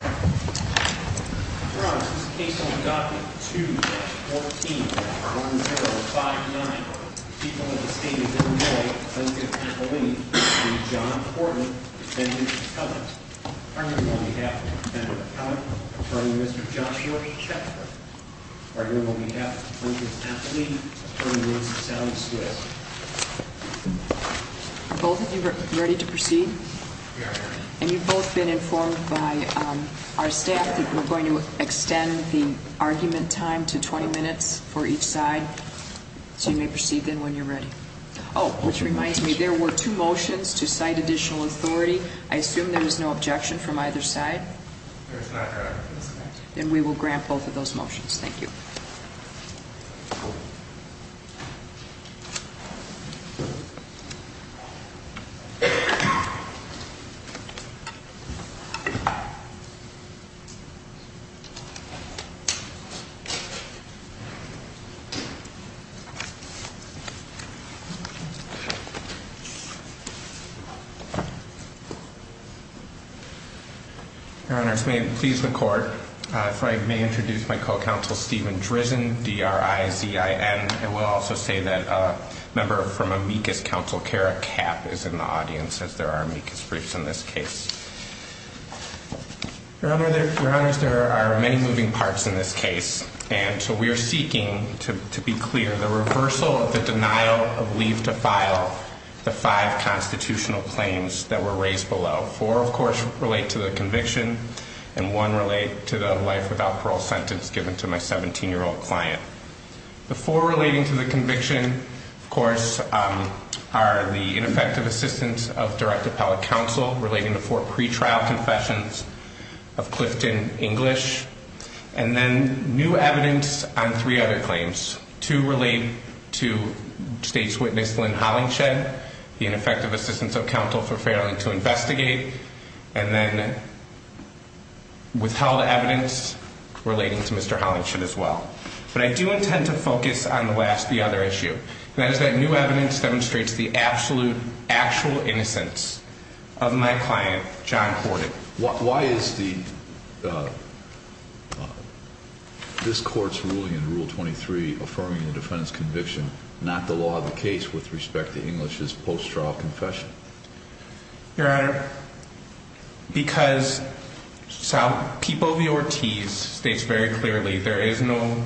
the state of Illinois and John Horton, Defendant McClellan, Attorney General on behalf of Defendant McClellan, Attorney Mr. Joshua Chetford, Attorney General on behalf of the plaintiff's athlete, Attorney Ms. Sally Swift. Are both of you ready to proceed? We are ready. And you've both been informed by our staff that we're going to extend the argument time to 20 minutes for each side. So you may proceed then when you're ready. Oh, which reminds me, there were two motions to cite additional authority. I assume there was no objection from either side? There was not an objection. Then we will grant both of those motions. Thank you. Your honors, may it please the court, if I may introduce my co-counsel, Stephen Drizzen, D-R-I-Z-I-N. I will also say that a member from amicus council, Kara Kapp, is in the audience as there are amicus briefs in this case. Your honors, there are many moving parts in this case. And so we are seeking, to be clear, the reversal of the denial of leave to file the five constitutional claims that were raised below. Four, of course, relate to the conviction. And one relate to the life without parole sentence given to my 17-year-old client. The four relating to the conviction, of course, are the ineffective assistance of direct appellate counsel relating to four pretrial confessions of Clifton English. And then new evidence on three other claims. Two relate to state's witness, Lynn Hollingshed, the ineffective assistance of counsel for failing to investigate. And then withheld evidence relating to Mr. Hollingshed as well. But I do intend to focus on the last, the other issue. And that is that new evidence demonstrates the absolute, actual innocence of my client, John Horton. Why is the, this court's ruling in rule 23 affirming the defendant's conviction not the law of the case with respect to English's post-trial confession? Your honor, because people of the Ortiz states very clearly there is no,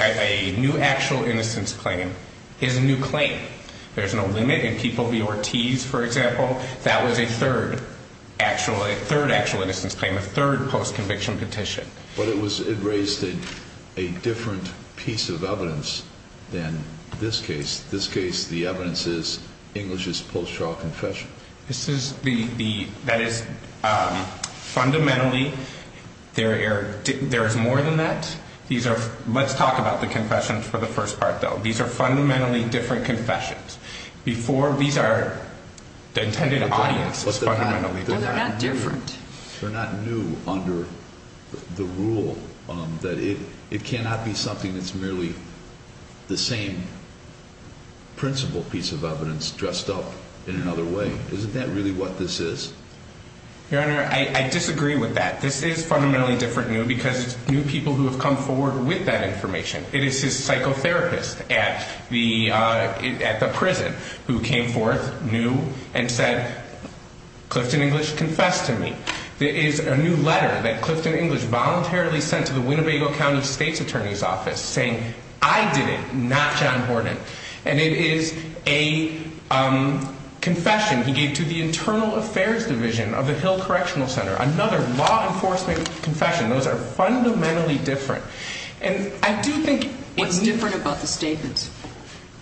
a new actual innocence claim is a new claim. There's no limit in people of the Ortiz, for example. That was a third actual, a third actual innocence claim, a third post-conviction petition. But it was, it raised a different piece of evidence than this case. This case, the evidence is English's post-trial confession. This is the, the, that is fundamentally, there are, there is more than that. These are, let's talk about the confession for the first part, though. These are fundamentally different confessions. Before, these are, the intended audience is fundamentally different. Well, they're not different. They're not new under the rule that it, it cannot be something that's merely the same principle piece of evidence dressed up in another way. Isn't that really what this is? Your honor, I, I disagree with that. This is fundamentally different new because it's new people who have come forward with that information. It is his psychotherapist at the, at the prison who came forth new and said, Clifton English, confess to me. There is a new letter that Clifton English voluntarily sent to the Winnebago County State's Attorney's Office saying, I did it, not John Horton. And it is a confession he gave to the Internal Affairs Division of the Hill Correctional Center, another law enforcement confession. Those are fundamentally different. And I do think. What's different about the statements?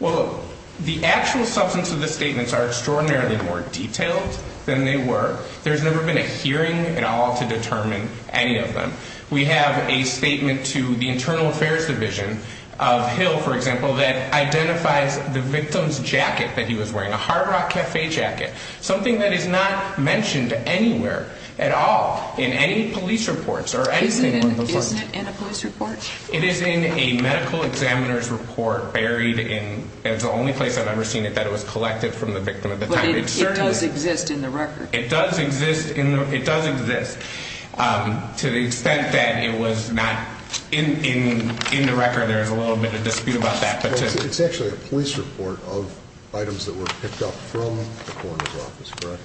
Well, the actual substance of the statements are extraordinarily more detailed than they were. There's never been a hearing at all to determine any of them. We have a statement to the Internal Affairs Division of Hill, for example, that identifies the victim's jacket that he was wearing, a Hard Rock Cafe jacket. Something that is not mentioned anywhere at all in any police reports or anything like that. Isn't it in a police report? It is in a medical examiner's report buried in, it's the only place I've ever seen it that it was collected from the victim at the time. But it does exist in the record. It does exist in the, it does exist to the extent that it was not in, in, in the record. There is a little bit of dispute about that. It's actually a police report of items that were picked up from the coroner's office, correct?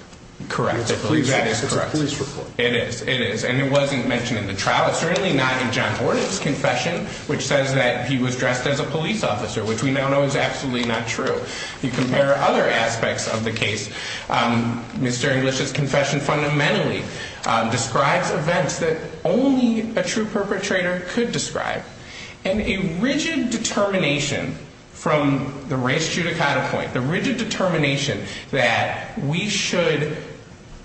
Correct. That is correct. It's a police report. It is. And it wasn't mentioned in the trial. It's certainly not in John Gordon's confession, which says that he was dressed as a police officer, which we now know is absolutely not true. You compare other aspects of the case, Mr. English's confession fundamentally describes events that only a true perpetrator could describe. And a rigid determination from the race judicata point, the rigid determination that we should,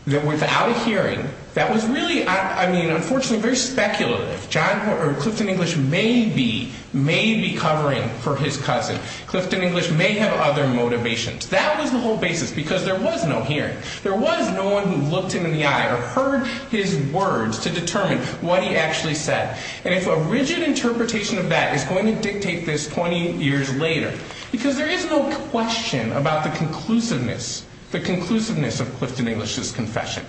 that without a hearing, that was really, I mean, unfortunately very speculative. John, or Clifton English may be, may be covering for his cousin. Clifton English may have other motivations. That was the whole basis because there was no hearing. There was no one who looked him in the eye or heard his words to determine what he actually said. And if a rigid interpretation of that is going to dictate this 20 years later, because there is no question about the conclusiveness, the conclusiveness of Clifton English's confession.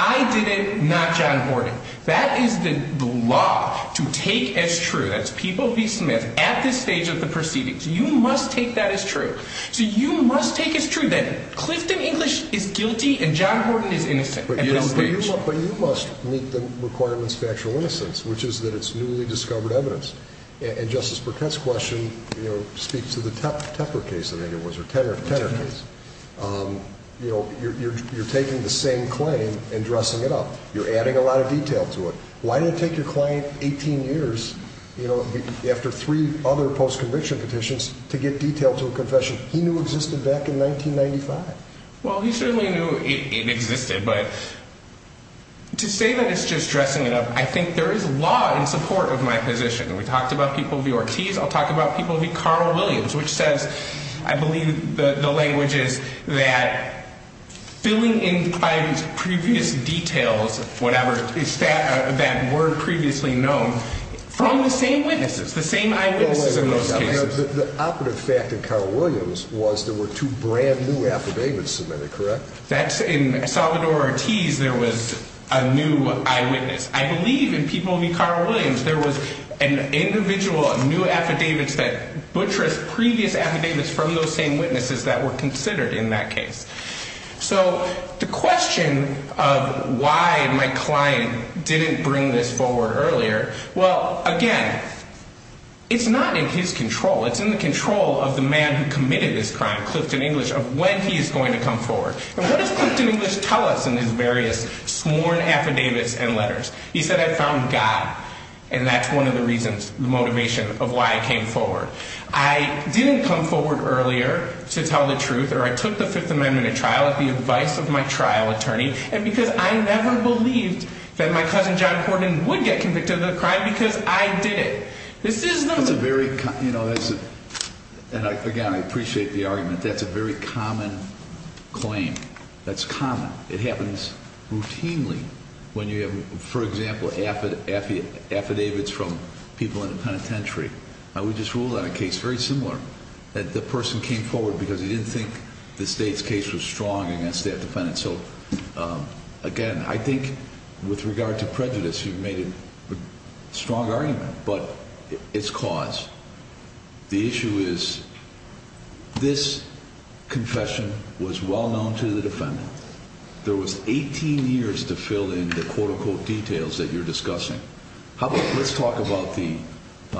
I did it, not John Gordon. That is the law to take as true. That's People v. Smith at this stage of the proceedings. You must take that as true. So you must take as true that Clifton English is guilty and John Gordon is innocent at this stage. But you must meet the requirements of factual innocence, which is that it's newly discovered evidence. And Justice Burkett's question, you know, speaks to the Tepper case, I think it was, or Tenner case. You know, you're taking the same claim and dressing it up. You're adding a lot of detail to it. Why did it take your client 18 years, you know, after three other post-conviction petitions to get detail to a confession he knew existed back in 1995? Well, he certainly knew it existed, but to say that it's just dressing it up, I think there is law in support of my position. We talked about People v. Ortiz. I'll talk about People v. Carl Williams, which says, I believe the language is that filling in client's previous details, whatever, that were previously known, from the same witnesses, the same eyewitnesses in those cases. The operative fact in Carl Williams was there were two brand new affidavits submitted, correct? That's in Salvador Ortiz there was a new eyewitness. I believe in People v. Carl Williams there was an individual, a new affidavit that butchers previous affidavits from those same witnesses that were considered in that case. So the question of why my client didn't bring this forward earlier, well, again, it's not in his control. It's in the control of the man who committed this crime, Clifton English, of when he is going to come forward. And what does Clifton English tell us in his various sworn affidavits and letters? He said, I found God, and that's one of the reasons, the motivation of why I came forward. I didn't come forward earlier to tell the truth, or I took the Fifth Amendment at trial at the advice of my trial attorney. And because I never believed that my cousin John Horton would get convicted of a crime because I did it. This is not a very, you know, and again, I appreciate the argument. That's a very common claim. That's common. It happens routinely when you have, for example, affidavits from people in the penitentiary. Now, we just ruled on a case very similar that the person came forward because he didn't think the state's case was strong against that defendant. So, again, I think with regard to prejudice, you've made a strong argument, but it's cause. The issue is this confession was well known to the defendant. There was 18 years to fill in the quote unquote details that you're discussing. How about let's talk about the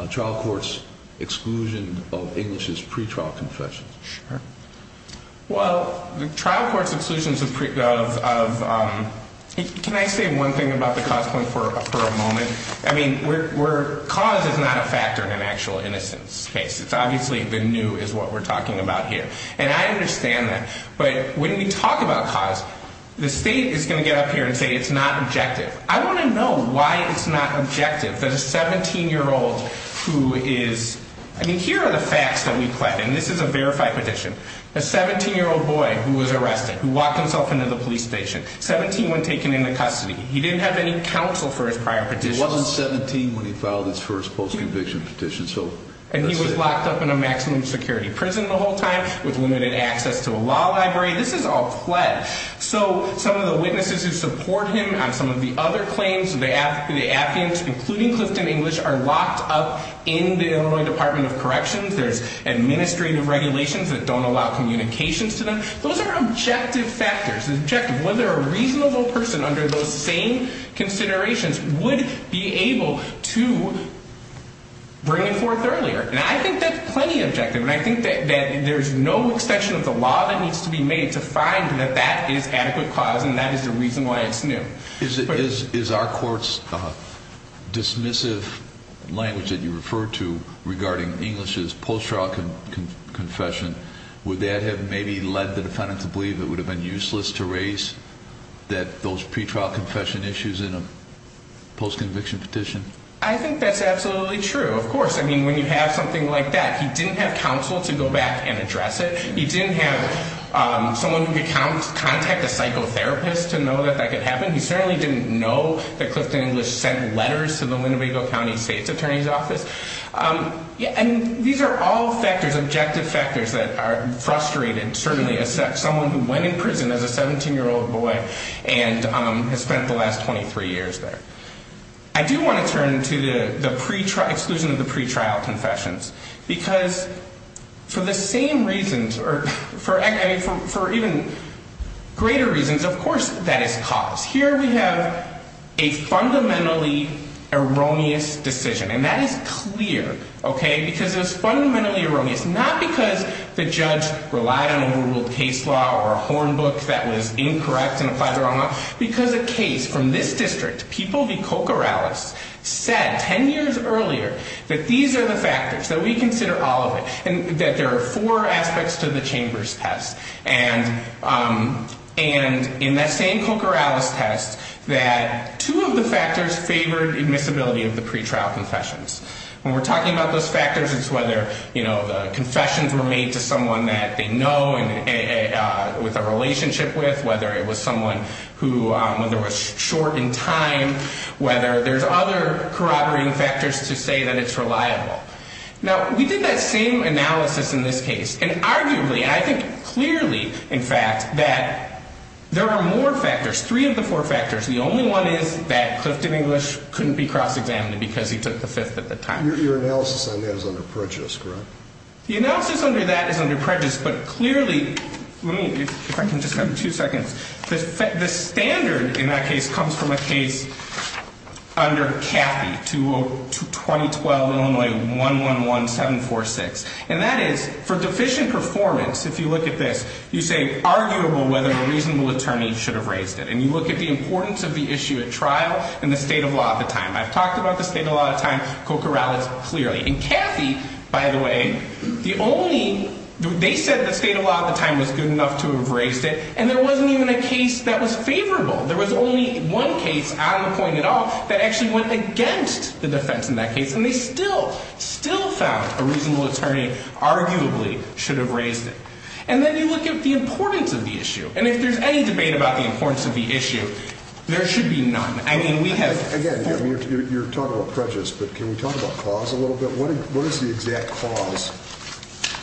trial court's exclusion of English's pretrial confession. Sure. Well, the trial court's exclusions of, can I say one thing about the cause point for a moment? I mean, cause is not a factor in an actual innocence case. It's obviously the new is what we're talking about here. And I understand that. But when we talk about cause, the state is going to get up here and say it's not objective. I want to know why it's not objective that a 17-year-old who is, I mean, here are the facts that we pledged. And this is a verified petition. A 17-year-old boy who was arrested, who locked himself into the police station, 17 when taken into custody. He didn't have any counsel for his prior petitions. He wasn't 17 when he filed his first post-conviction petition. And he was locked up in a maximum security prison the whole time with limited access to a law library. This is all pledged. So some of the witnesses who support him on some of the other claims, the appeals, including Clifton English, are locked up in the Illinois Department of Corrections. There's administrative regulations that don't allow communications to them. Those are objective factors. The objective, whether a reasonable person under those same considerations would be able to bring it forth earlier. And I think that's plenty objective. And I think that there's no exception of the law that needs to be made to find that that is adequate cause and that is the reason why it's new. Is our court's dismissive language that you referred to regarding English's post-trial confession, would that have maybe led the defendant to believe it would have been useless to raise those pre-trial confession issues in a post-conviction petition? I think that's absolutely true, of course. I mean, when you have something like that, he didn't have counsel to go back and address it. He didn't have someone who could contact a psychotherapist to know that that could happen. He certainly didn't know that Clifton English sent letters to the Linnebago County State's Attorney's Office. And these are all factors, objective factors, that are frustrating, certainly, as someone who went in prison as a 17-year-old boy and has spent the last 23 years there. I do want to turn to the exclusion of the pre-trial confessions. Because for the same reasons, or for even greater reasons, of course that is cause. Here we have a fundamentally erroneous decision. And that is clear, okay? Because it is fundamentally erroneous, not because the judge relied on a rule of case law or a horn book that was incorrect and applied the wrong law. Because a case from this district, People v. Cocorales, said 10 years earlier that these are the factors, that we consider all of it, and that there are four aspects to the Chambers test. And in that same Cocorales test, that two of the factors favored admissibility of the pre-trial confessions. When we're talking about those factors, it's whether, you know, the confessions were made to someone that they know and with a relationship with, whether it was someone who was short in time, whether there's other corroborating factors to say that it's reliable. Now, we did that same analysis in this case. And arguably, I think clearly, in fact, that there are more factors, three of the four factors. The only one is that Clifton English couldn't be cross-examined because he took the fifth at the time. Your analysis on that is under prejudice, correct? The analysis under that is under prejudice. But clearly, let me, if I can just have two seconds, the standard in that case comes from a case under Cathy, 2012, Illinois, 111746. And that is, for deficient performance, if you look at this, you say, arguable whether a reasonable attorney should have raised it. And you look at the importance of the issue at trial and the state of law at the time. I've talked about the state of law at the time, Cocorales clearly. And Cathy, by the way, the only, they said the state of law at the time was good enough to have raised it. And there wasn't even a case that was favorable. There was only one case on the point at all that actually went against the defense in that case. And they still, still found a reasonable attorney arguably should have raised it. And then you look at the importance of the issue. And if there's any debate about the importance of the issue, there should be none. Again, you're talking about prejudice, but can you talk about cause a little bit? What is the exact cause,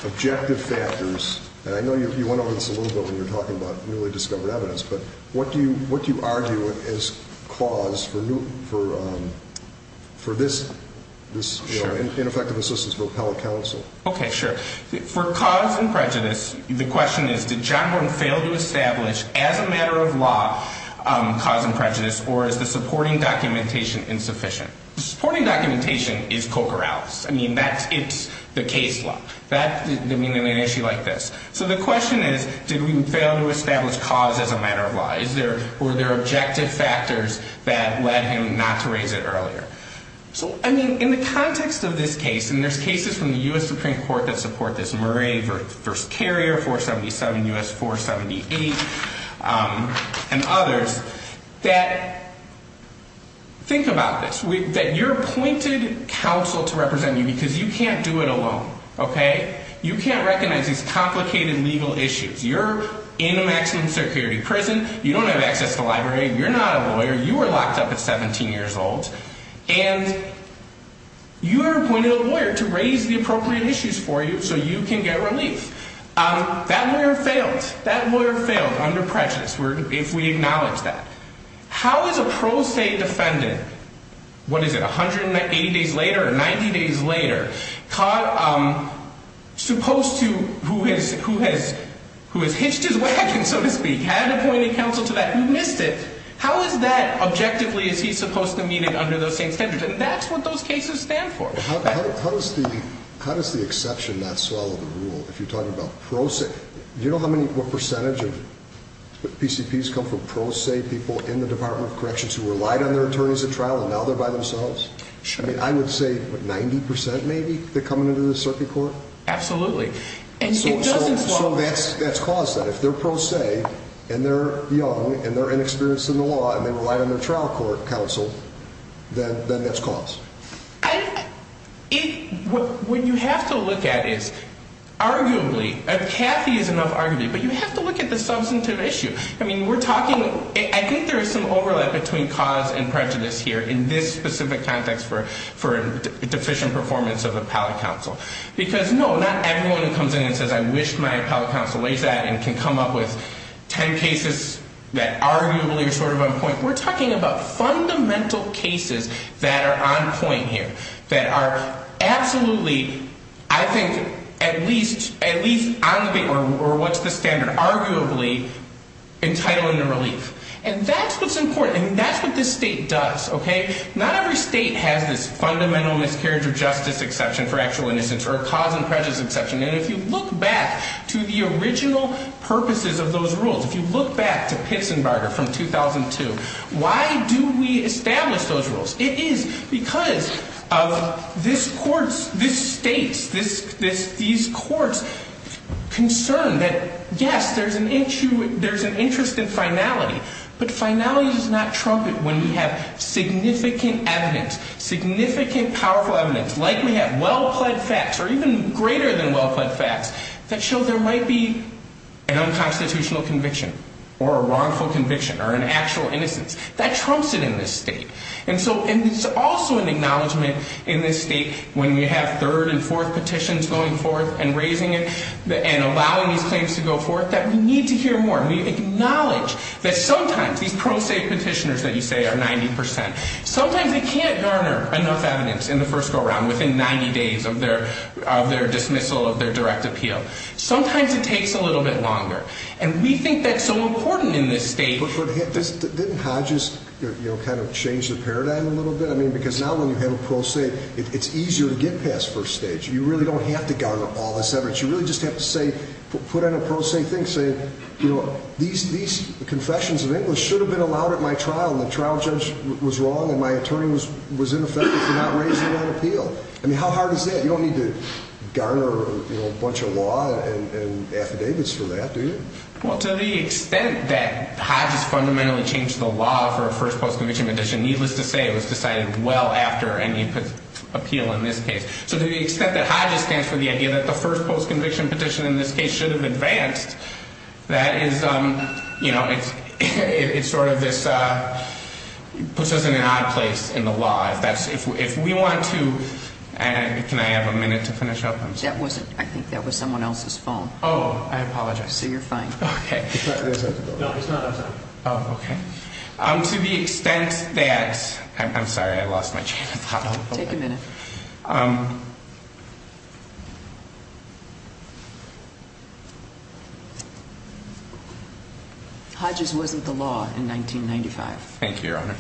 objective factors? And I know you went over this a little bit when you were talking about newly discovered evidence. But what do you argue as cause for this ineffective assistance for appellate counsel? Okay, sure. For cause and prejudice, the question is, did John Horton fail to establish as a matter of law cause and prejudice or is the supporting documentation insufficient? The supporting documentation is Cocorales. I mean, that's, it's the case law. That, I mean, in an issue like this. So the question is, did we fail to establish cause as a matter of law? Is there, were there objective factors that led him not to raise it earlier? So, I mean, in the context of this case, and there's cases from the U.S. Supreme Court that support this, First Carrier, 477 U.S. 478, and others, that, think about this. That you're appointed counsel to represent you because you can't do it alone. Okay? You can't recognize these complicated legal issues. You're in a maximum security prison. You don't have access to a library. You're not a lawyer. You were locked up at 17 years old. And you were appointed a lawyer to raise the appropriate issues for you so you can get relief. That lawyer failed. That lawyer failed under prejudice if we acknowledge that. How is a pro se defendant, what is it, 180 days later or 90 days later, supposed to, who has, who has, who has hitched his wagon, so to speak, had appointed counsel to that, who missed it, how is that objectively, is he supposed to meet it under those same standards? And that's what those cases stand for. How does the exception not swallow the rule if you're talking about pro se? Do you know how many, what percentage of PCPs come from pro se people in the Department of Corrections who relied on their attorneys at trial and now they're by themselves? Sure. I mean, I would say, what, 90% maybe that come into the circuit court? Absolutely. And it doesn't swallow. So that's caused that. If they're pro se and they're young and they're inexperienced in the law and they relied on their trial court counsel, then that's caused. And it, what you have to look at is, arguably, and Kathy is enough arguably, but you have to look at the substantive issue. I mean, we're talking, I think there is some overlap between cause and prejudice here in this specific context for deficient performance of appellate counsel. Because, no, not everyone who comes in and says, I wish my appellate counsel lays that and can come up with 10 cases that arguably are sort of on point. We're talking about fundamental cases that are on point here, that are absolutely, I think, at least on the, or what's the standard, arguably, entitling the relief. And that's what's important, and that's what this state does. Not every state has this fundamental miscarriage of justice exception for actual innocence or a cause and prejudice exception. And if you look back to the original purposes of those rules, if you look back to Pitts and Barger from 2002, why do we establish those rules? It is because of this court's, this state's, these courts' concern that, yes, there's an interest in finality. But finality does not trump it when we have significant evidence, significant, powerful evidence, like we have well-pled facts, or even greater than well-pled facts, that show there might be an unconstitutional conviction or a wrongful conviction or an actual innocence. That trumps it in this state. And so, and it's also an acknowledgment in this state, when we have third and fourth petitions going forth and raising it and allowing these claims to go forth, that we need to hear more. And we acknowledge that sometimes these pro se petitioners that you say are 90 percent, sometimes they can't garner enough evidence in the first go-around, within 90 days of their dismissal of their direct appeal. Sometimes it takes a little bit longer. And we think that's so important in this state. But didn't Hodges, you know, kind of change the paradigm a little bit? I mean, because now when you have a pro se, it's easier to get past first stage. You really don't have to garner all this evidence. You really just have to say, put on a pro se thing, say, you know, these confessions of Inglis should have been allowed at my trial, and the trial judge was wrong and my attorney was ineffective for not raising that appeal. I mean, how hard is that? You don't need to garner a bunch of law and affidavits for that, do you? Well, to the extent that Hodges fundamentally changed the law for a first post-conviction petition, needless to say, it was decided well after any appeal in this case. So to the extent that Hodges stands for the idea that the first post-conviction petition in this case should have advanced, that is, you know, it's sort of this, puts us in an odd place in the law. If we want to, can I have a minute to finish up? I think that was someone else's phone. Oh, I apologize. So you're fine. Okay. No, it's not. Oh, okay. To the extent that, I'm sorry, I lost my train of thought. Take a minute. Okay. Hodges wasn't the law in 1995. Thank you, Your Honor.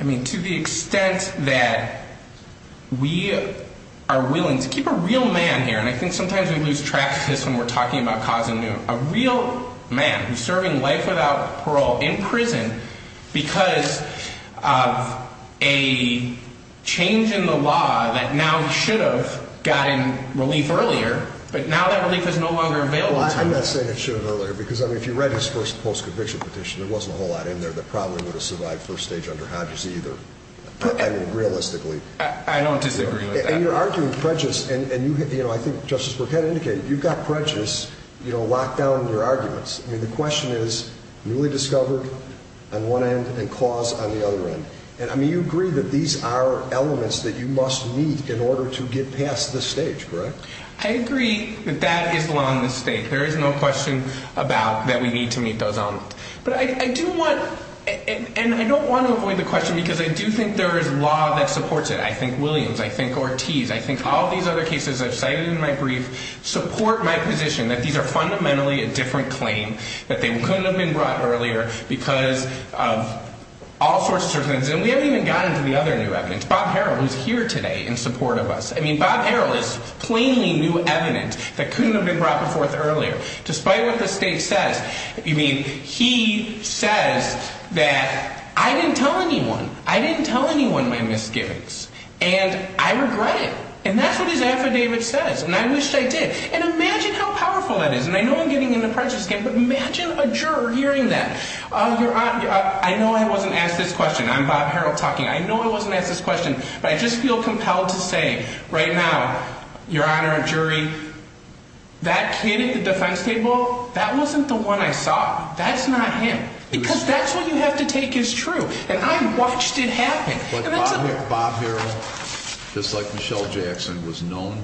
I mean, to the extent that we are willing to keep a real man here, and I think sometimes we lose track of this when we're talking about Kazanu, a real man who's serving life without parole in prison because of a change in the law that now should have gotten relief earlier, but now that relief is no longer available to him. Well, I'm not saying it should have earlier, because, I mean, if you read his first post-conviction petition, there wasn't a whole lot in there that probably would have survived first stage under Hodges either, I mean, realistically. I don't disagree with that. And you're arguing prejudice, and, you know, I think Justice Burkett indicated you've got prejudice locked down in your arguments. I mean, the question is newly discovered on one end and cause on the other end. And, I mean, you agree that these are elements that you must meet in order to get past this stage, correct? I agree that that is the law in this state. There is no question about that we need to meet those elements. But I do want, and I don't want to avoid the question because I do think there is law that supports it. I think Williams. I think Ortiz. I think all these other cases I've cited in my brief support my position that these are fundamentally a different claim, that they couldn't have been brought earlier because of all sorts of circumstances. And we haven't even gotten to the other new evidence. Bob Harrell is here today in support of us. I mean, Bob Harrell is plainly new evidence that couldn't have been brought forth earlier. Despite what the state says. You mean he says that I didn't tell anyone. I didn't tell anyone my misgivings. And I regret it. And that's what his affidavit says. And I wish I did. And imagine how powerful that is. And I know I'm getting into prejudice again. But imagine a juror hearing that. I know I wasn't asked this question. I'm Bob Harrell talking. I know I wasn't asked this question. But I just feel compelled to say right now, Your Honor, a jury, that kid at the defense table, that wasn't the one I saw. That's not him. Because that's what you have to take as true. And I watched it happen. But Bob Harrell, just like Michelle Jackson, was known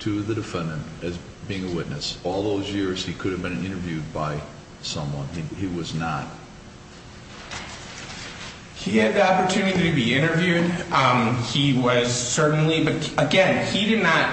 to the defendant as being a witness. All those years he could have been interviewed by someone. He was not. He had the opportunity to be interviewed. He was certainly. But, again, he did not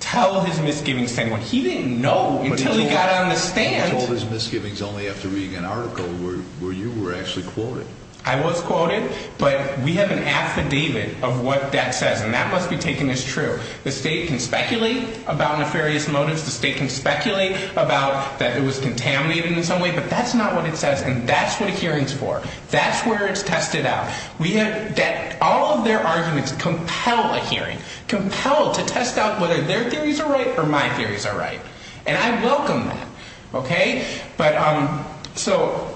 tell his misgivings to anyone. He didn't know until he got on the stand. He told his misgivings only after reading an article where you were actually quoted. I was quoted. But we have an affidavit of what that says. And that must be taken as true. The state can speculate about nefarious motives. The state can speculate about that it was contaminated in some way. But that's not what it says. And that's what a hearing is for. That's where it's tested out. All of their arguments compel a hearing, compel to test out whether their theories are right or my theories are right. And I welcome that. Okay? But so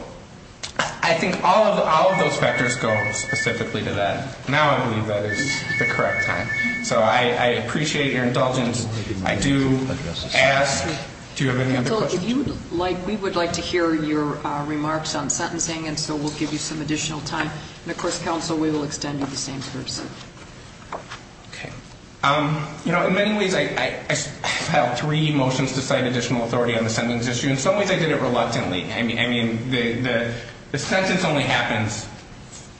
I think all of those factors go specifically to that. Now I believe that is the correct time. So I appreciate your indulgence. I do ask, do you have any other questions? If you would like, we would like to hear your remarks on sentencing, and so we'll give you some additional time. And, of course, counsel, we will extend you the same courtesy. Okay. You know, in many ways I filed three motions to cite additional authority on the sentence issue. In some ways I did it reluctantly. I mean, the sentence only happens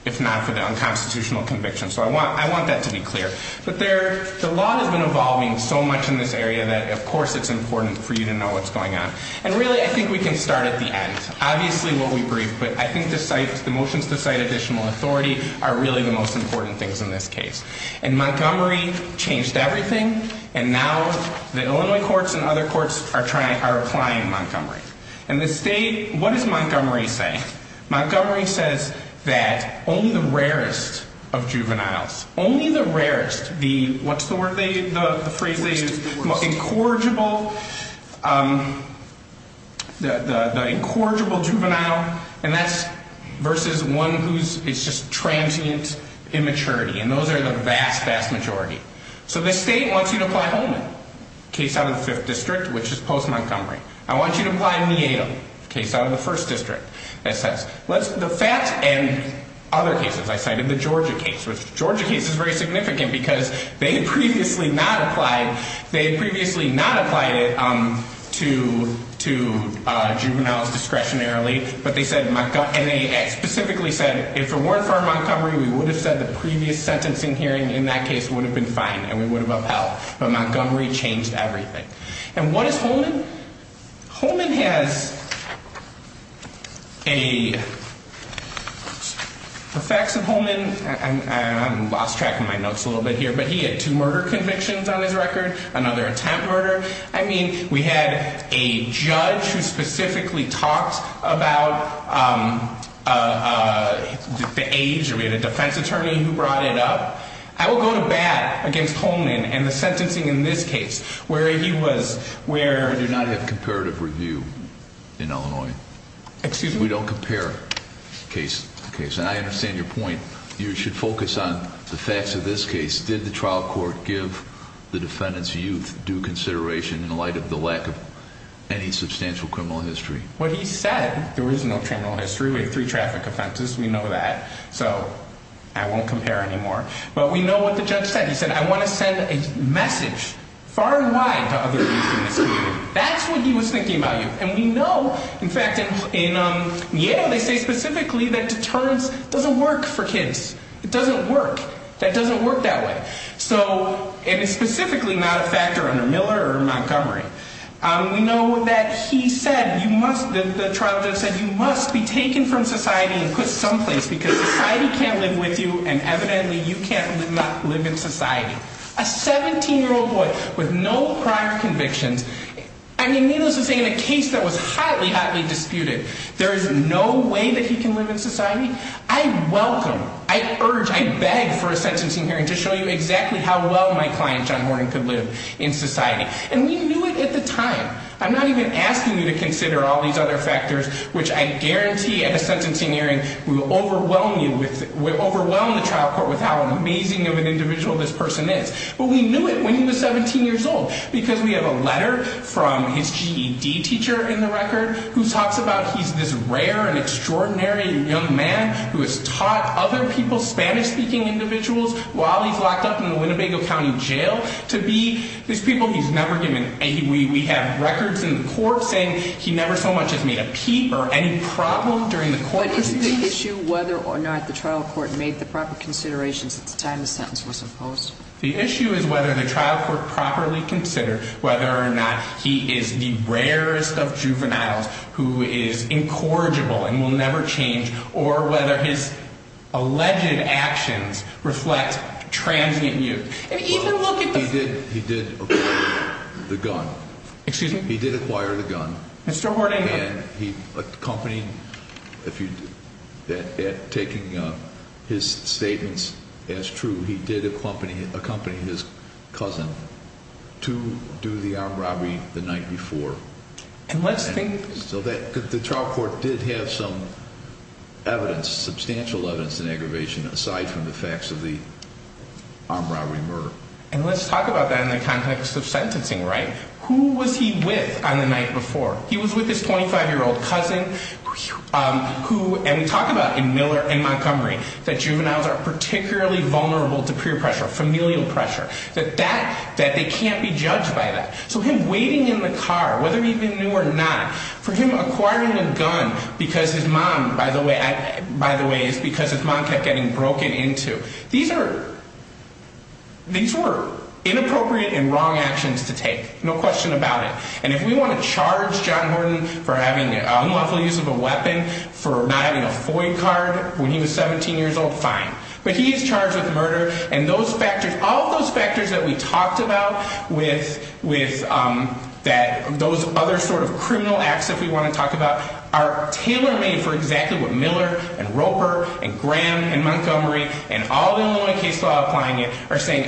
if not for the unconstitutional conviction. So I want that to be clear. But the law has been evolving so much in this area that, of course, it's important for you to know what's going on. And, really, I think we can start at the end. Obviously we'll be brief, but I think the motions to cite additional authority are really the most important things in this case. And Montgomery changed everything, and now the Illinois courts and other courts are applying Montgomery. And the state, what does Montgomery say? Montgomery says that only the rarest of juveniles, only the rarest, what's the phrase they use? The incorrigible juvenile. And that's versus one who is just transient immaturity. And those are the vast, vast majority. So the state wants you to apply Holman, case out of the 5th District, which is post-Montgomery. I want you to apply Nieto, case out of the 1st District. The Fats and other cases, I cited the Georgia case. The Georgia case is very significant because they had previously not applied it to juveniles discretionarily. But they specifically said, if it weren't for Montgomery, we would have said the previous sentencing hearing in that case would have been fine. And we would have upheld. And what is Holman? Holman has a, the facts of Holman, I lost track of my notes a little bit here, but he had two murder convictions on his record, another attempt murder. I mean, we had a judge who specifically talked about the age. We had a defense attorney who brought it up. I will go to bat against Holman and the sentencing in this case where he was, where. We do not have comparative review in Illinois. Excuse me? We don't compare case to case. And I understand your point. You should focus on the facts of this case. Did the trial court give the defendant's youth due consideration in light of the lack of any substantial criminal history? What he said, there was no criminal history. We had three traffic offenses. We know that. So I won't compare anymore. But we know what the judge said. He said, I want to send a message far and wide to other youth in this community. That's what he was thinking about you. And we know, in fact, in Yale, they say specifically that deterrence doesn't work for kids. It doesn't work. That doesn't work that way. So it is specifically not a factor under Miller or Montgomery. We know that he said you must, the trial judge said, you must be taken from society and put someplace because society can't live with you. And evidently, you can't live in society. A 17-year-old boy with no prior convictions, I mean, needless to say, in a case that was hotly, hotly disputed, there is no way that he can live in society? I welcome, I urge, I beg for a sentencing hearing to show you exactly how well my client, John Horton, could live in society. And we knew it at the time. I'm not even asking you to consider all these other factors, which I guarantee at a sentencing hearing will overwhelm the trial court with how amazing of an individual this person is. But we knew it when he was 17 years old because we have a letter from his GED teacher in the record who talks about he's this rare and extraordinary young man who has taught other people, Spanish-speaking individuals, while he's locked up in the Winnebago County Jail, to be these people he's never given aid. We have records in the court saying he never so much has made a peep or any problem during the court proceedings. But isn't the issue whether or not the trial court made the proper considerations at the time the sentence was imposed? The issue is whether the trial court properly considered whether or not he is the rarest of juveniles who is incorrigible and will never change, or whether his alleged actions reflect transient youth. He did acquire the gun. Excuse me? He did acquire the gun. Mr. Horton, I have... And he accompanied, taking his statements as true, he did accompany his cousin to do the armed robbery the night before. And let's think... So the trial court did have some evidence, substantial evidence, in aggravation aside from the facts of the armed robbery murder. And let's talk about that in the context of sentencing, right? Who was he with on the night before? He was with his 25-year-old cousin, and we talk about in Miller and Montgomery that juveniles are particularly vulnerable to peer pressure, familial pressure, that they can't be judged by that. So him waiting in the car, whether he'd been new or not, for him acquiring a gun because his mom, by the way, is because his mom kept getting broken into, these were inappropriate and wrong actions to take, no question about it. And if we want to charge John Horton for having an unlawful use of a weapon, for not having a FOIA card when he was 17 years old, fine. But he is charged with murder, and those factors, all of those factors that we talked about with those other sort of criminal acts that we want to talk about are tailor-made for exactly what Miller and Roper and Graham and Montgomery and all the Illinois case law applying it are saying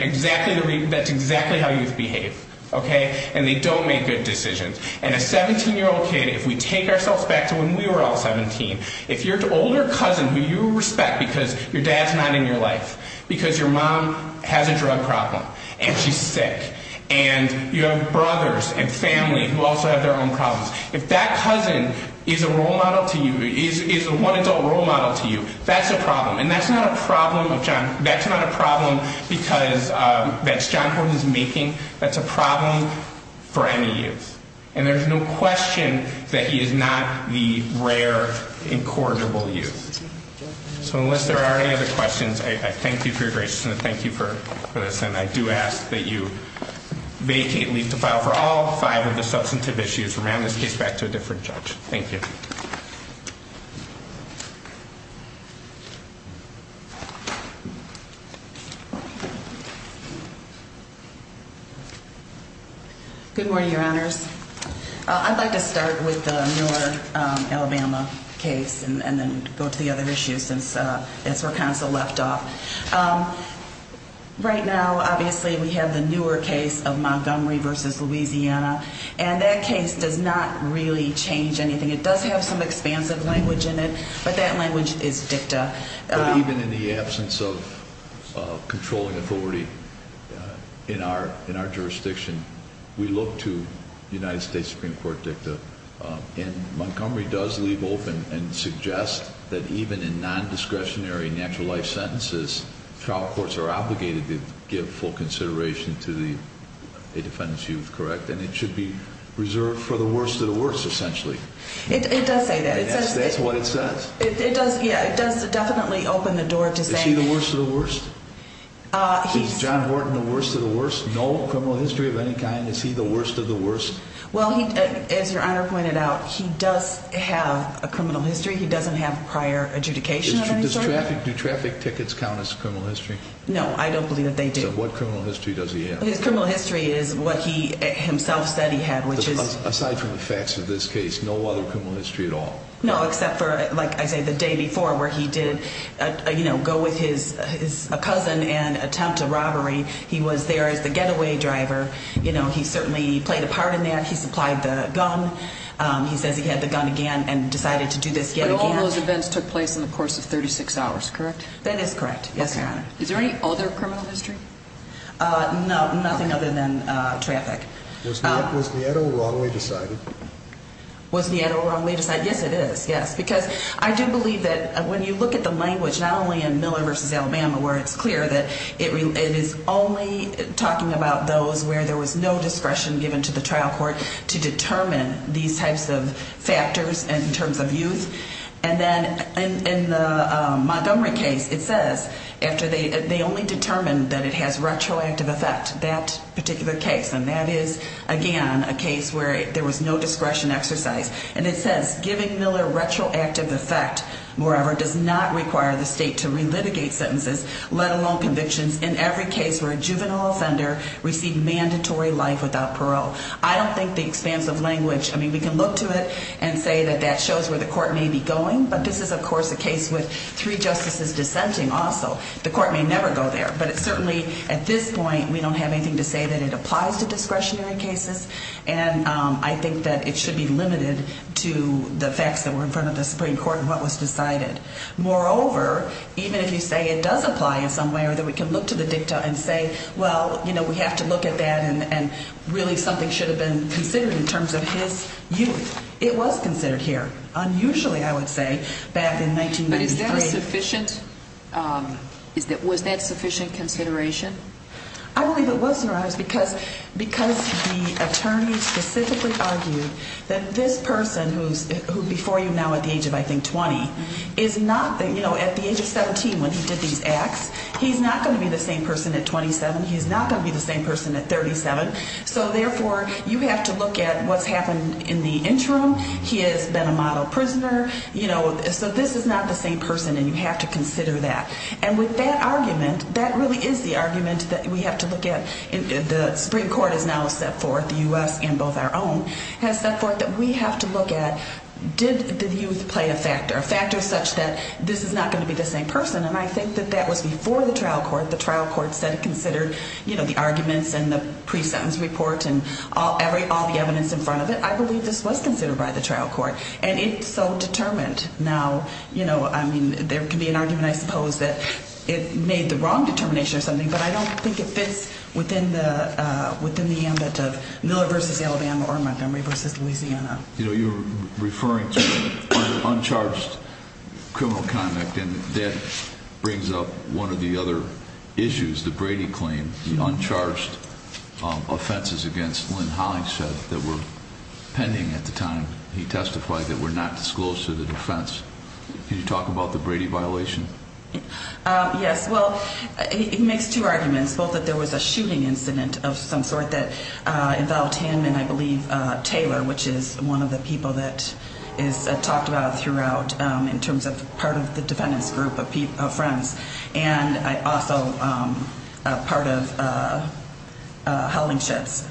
that's exactly how youth behave. Okay? And they don't make good decisions. And a 17-year-old kid, if we take ourselves back to when we were all 17, if your older cousin who you respect because your dad's not in your life, because your mom has a drug problem and she's sick, and you have brothers and family who also have their own problems, if that cousin is a role model to you, is a one-adult role model to you, that's a problem. And that's not a problem because that's John Horton's making. That's a problem for any youth. And there's no question that he is not the rare incorrigible youth. So unless there are any other questions, I thank you for your graciousness. Thank you for this. And I do ask that you vacate and leave the file for all five of the substantive issues. Remand this case back to a different judge. Thank you. Good morning, Your Honors. I'd like to start with the newer Alabama case and then go to the other issues since that's where counsel left off. Right now, obviously, we have the newer case of Montgomery v. Louisiana. And that case does not really change anything. It does have some expansive language in it, but that language is dicta. But even in the absence of controlling authority in our jurisdiction, we look to United States Supreme Court dicta. And Montgomery does leave open and suggest that even in non-discretionary natural life sentences, trial courts are obligated to give full consideration to a defendant's youth, correct? And it should be reserved for the worst of the worst, essentially. It does say that. That's what it says? It does, yeah. It does definitely open the door to say- Is he the worst of the worst? Is John Horton the worst of the worst? No criminal history of any kind? Is he the worst of the worst? Well, as Your Honor pointed out, he does have a criminal history. He doesn't have prior adjudication of any sort. Do traffic tickets count as criminal history? No, I don't believe that they do. So what criminal history does he have? His criminal history is what he himself said he had, which is- Aside from the facts of this case, no other criminal history at all? No, except for, like I say, the day before where he did go with his cousin and attempt a robbery. He was there as the getaway driver. He certainly played a part in that. He supplied the gun. He says he had the gun again and decided to do this yet again. But all those events took place in the course of 36 hours, correct? That is correct, yes, Your Honor. Is there any other criminal history? No, nothing other than traffic. Was Nieto wrongly decided? Was Nieto wrongly decided? Yes, it is, yes. Because I do believe that when you look at the language, not only in Miller v. Alabama, where it's clear that it is only talking about those where there was no discretion given to the trial court to determine these types of factors in terms of youth. And then in the Montgomery case, it says after they only determined that it has retroactive effect, that particular case, and that is, again, a case where there was no discretion exercised. And it says giving Miller retroactive effect, moreover, does not require the state to relitigate sentences, let alone convictions, in every case where a juvenile offender received mandatory life without parole. I don't think the expansive language, I mean, we can look to it and say that that shows where the court may be going. But this is, of course, a case with three justices dissenting also. The court may never go there. But it certainly, at this point, we don't have anything to say that it applies to discretionary cases. And I think that it should be limited to the facts that were in front of the Supreme Court and what was decided. Moreover, even if you say it does apply in some way or that we can look to the dicta and say, well, you know, we have to look at that and really something should have been considered in terms of his youth. It was considered here, unusually, I would say, back in 1993. But is that sufficient? Was that sufficient consideration? I believe it was, Your Honors, because the attorney specifically argued that this person who's before you now at the age of, I think, 20, is not, you know, at the age of 17 when he did these acts, he's not going to be the same person at 27. He's not going to be the same person at 37. So, therefore, you have to look at what's happened in the interim. He has been a model prisoner. You know, so this is not the same person, and you have to consider that. And with that argument, that really is the argument that we have to look at. The Supreme Court has now set forth, the U.S. and both our own, has set forth that we have to look at did the youth play a factor, a factor such that this is not going to be the same person, and I think that that was before the trial court. The trial court said it considered, you know, the arguments and the pre-sentence report and all the evidence in front of it. I believe this was considered by the trial court, and it's so determined now. You know, I mean, there can be an argument, I suppose, that it made the wrong determination or something, but I don't think it fits within the ambit of Miller v. Alabama or Montgomery v. Louisiana. You know, you're referring to uncharged criminal conduct, and that brings up one of the other issues, the Brady claim, the uncharged offenses against Lynn Hollingshead that were pending at the time he testified that were not disclosed to the defense. Can you talk about the Brady violation? Yes. Well, it makes two arguments, both that there was a shooting incident of some sort that involved him and, I believe, Taylor, which is one of the people that is talked about throughout in terms of part of the defendant's group of friends and also part of Hollingshead's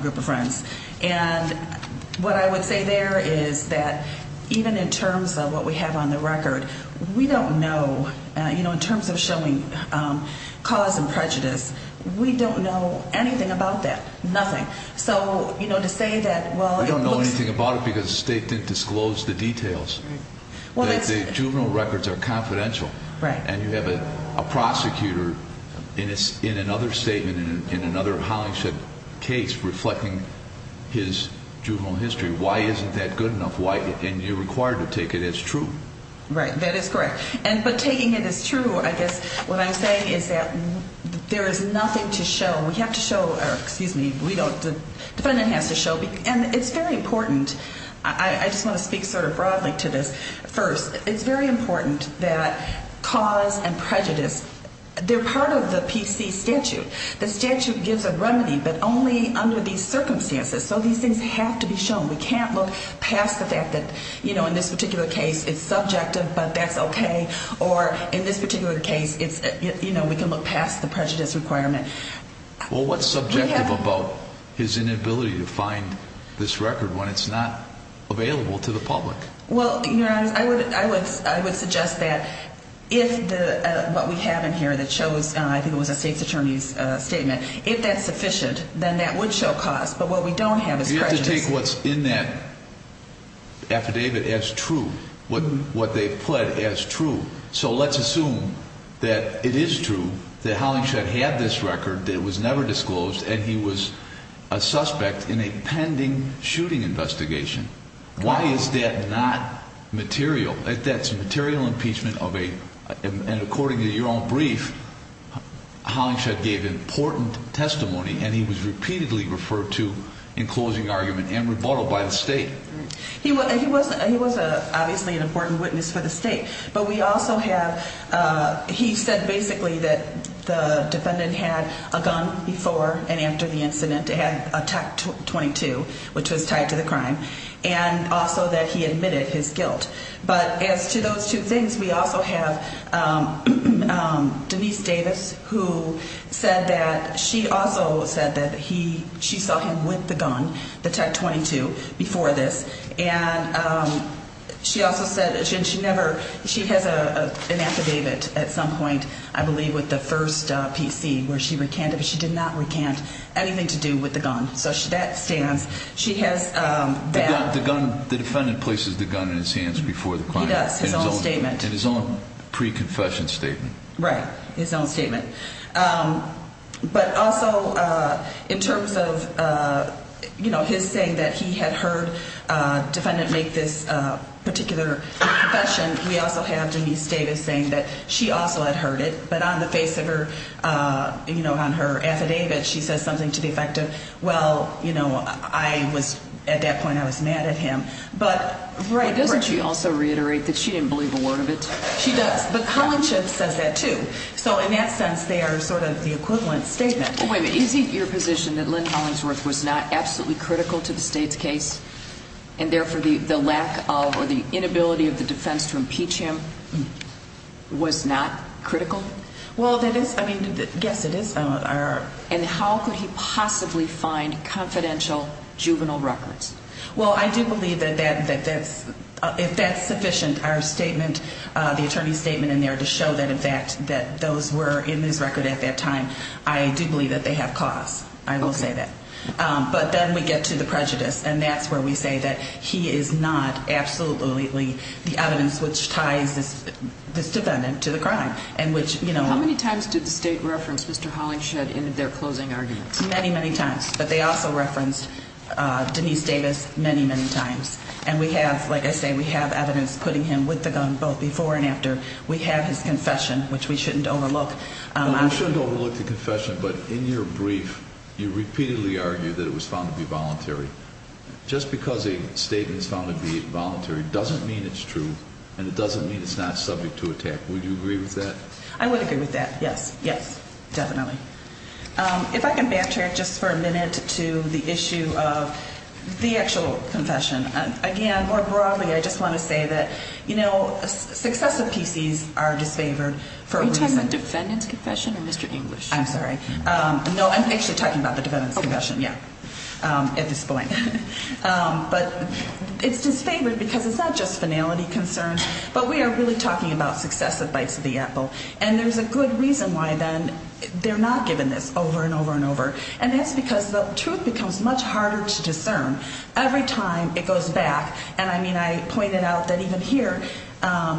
group of friends. And what I would say there is that even in terms of what we have on the record, we don't know, you know, in terms of showing cause and prejudice, we don't know anything about that, nothing. So, you know, to say that, well, it looks – We don't know anything about it because the state didn't disclose the details. Right. Well, that's – The juvenile records are confidential. Right. And you have a prosecutor in another statement, in another Hollingshead case, reflecting his juvenile history. Why isn't that good enough? Why – and you're required to take it as true. Right. That is correct. But taking it as true, I guess what I'm saying is that there is nothing to show. We have to show – or, excuse me, we don't – the defendant has to show. And it's very important – I just want to speak sort of broadly to this first. It's very important that cause and prejudice – they're part of the PC statute. The statute gives a remedy, but only under these circumstances. So these things have to be shown. We can't look past the fact that, you know, in this particular case, it's subjective, but that's okay. Or in this particular case, it's – you know, we can look past the prejudice requirement. Well, what's subjective about his inability to find this record when it's not available to the public? Well, Your Honor, I would suggest that if what we have in here that shows – I think it was a state's attorney's statement – if that's sufficient, then that would show cause. But what we don't have is prejudice. You have to take what's in that affidavit as true, what they've pled as true. So let's assume that it is true that Hollingshed had this record that was never disclosed and he was a suspect in a pending shooting investigation. Why is that not material? That's material impeachment of a – and according to your own brief, Hollingshed gave important testimony and he was repeatedly referred to in closing argument and rebuttal by the state. He was obviously an important witness for the state, but we also have – he said basically that the defendant had a gun before and after the incident. It had a TAC-22, which was tied to the crime, and also that he admitted his guilt. But as to those two things, we also have Denise Davis who said that she also said that he – she saw him with the gun, the TAC-22, before this. And she also said – and she never – she has an affidavit at some point, I believe, with the first PC, where she recanted, but she did not recant anything to do with the gun. So that stands. She has that. The gun – the defendant places the gun in his hands before the crime. He does, his own statement. In his own pre-confession statement. Right, his own statement. But also in terms of his saying that he had heard defendant make this particular confession, we also have Denise Davis saying that she also had heard it, but on the face of her – you know, on her affidavit, she says something to the effect of, well, you know, I was – at that point I was mad at him. But – Doesn't she also reiterate that she didn't believe a word of it? She does. But Collingsworth says that, too. So in that sense, they are sort of the equivalent statement. Wait a minute. Is it your position that Lynn Collingsworth was not absolutely critical to the State's case, and therefore the lack of or the inability of the defense to impeach him was not critical? Well, that is – I mean, yes, it is. And how could he possibly find confidential juvenile records? Well, I do believe that that's – if that's sufficient, our statement, the attorney's statement in there to show that, in fact, that those were in his record at that time, I do believe that they have cause. I will say that. But then we get to the prejudice, and that's where we say that he is not absolutely the evidence which ties this defendant to the crime. And which, you know – How many times did the State reference Mr. Hollingshed in their closing arguments? Many, many times. But they also referenced Denise Davis many, many times. And we have – like I say, we have evidence putting him with the gun both before and after. We have his confession, which we shouldn't overlook. We shouldn't overlook the confession, but in your brief, you repeatedly argue that it was found to be voluntary. Just because a statement is found to be voluntary doesn't mean it's true, and it doesn't mean it's not subject to attack. Would you agree with that? I would agree with that, yes. Yes, definitely. If I can backtrack just for a minute to the issue of the actual confession. Again, more broadly, I just want to say that, you know, successive PCs are disfavored for a reason. Are you talking about the defendant's confession or Mr. English? I'm sorry. No, I'm actually talking about the defendant's confession, yeah, at this point. But it's disfavored because it's not just finality concerns, but we are really talking about successive bites of the apple. And there's a good reason why, then, they're not given this over and over and over. And that's because the truth becomes much harder to discern every time it goes back. And, I mean, I pointed out that even here,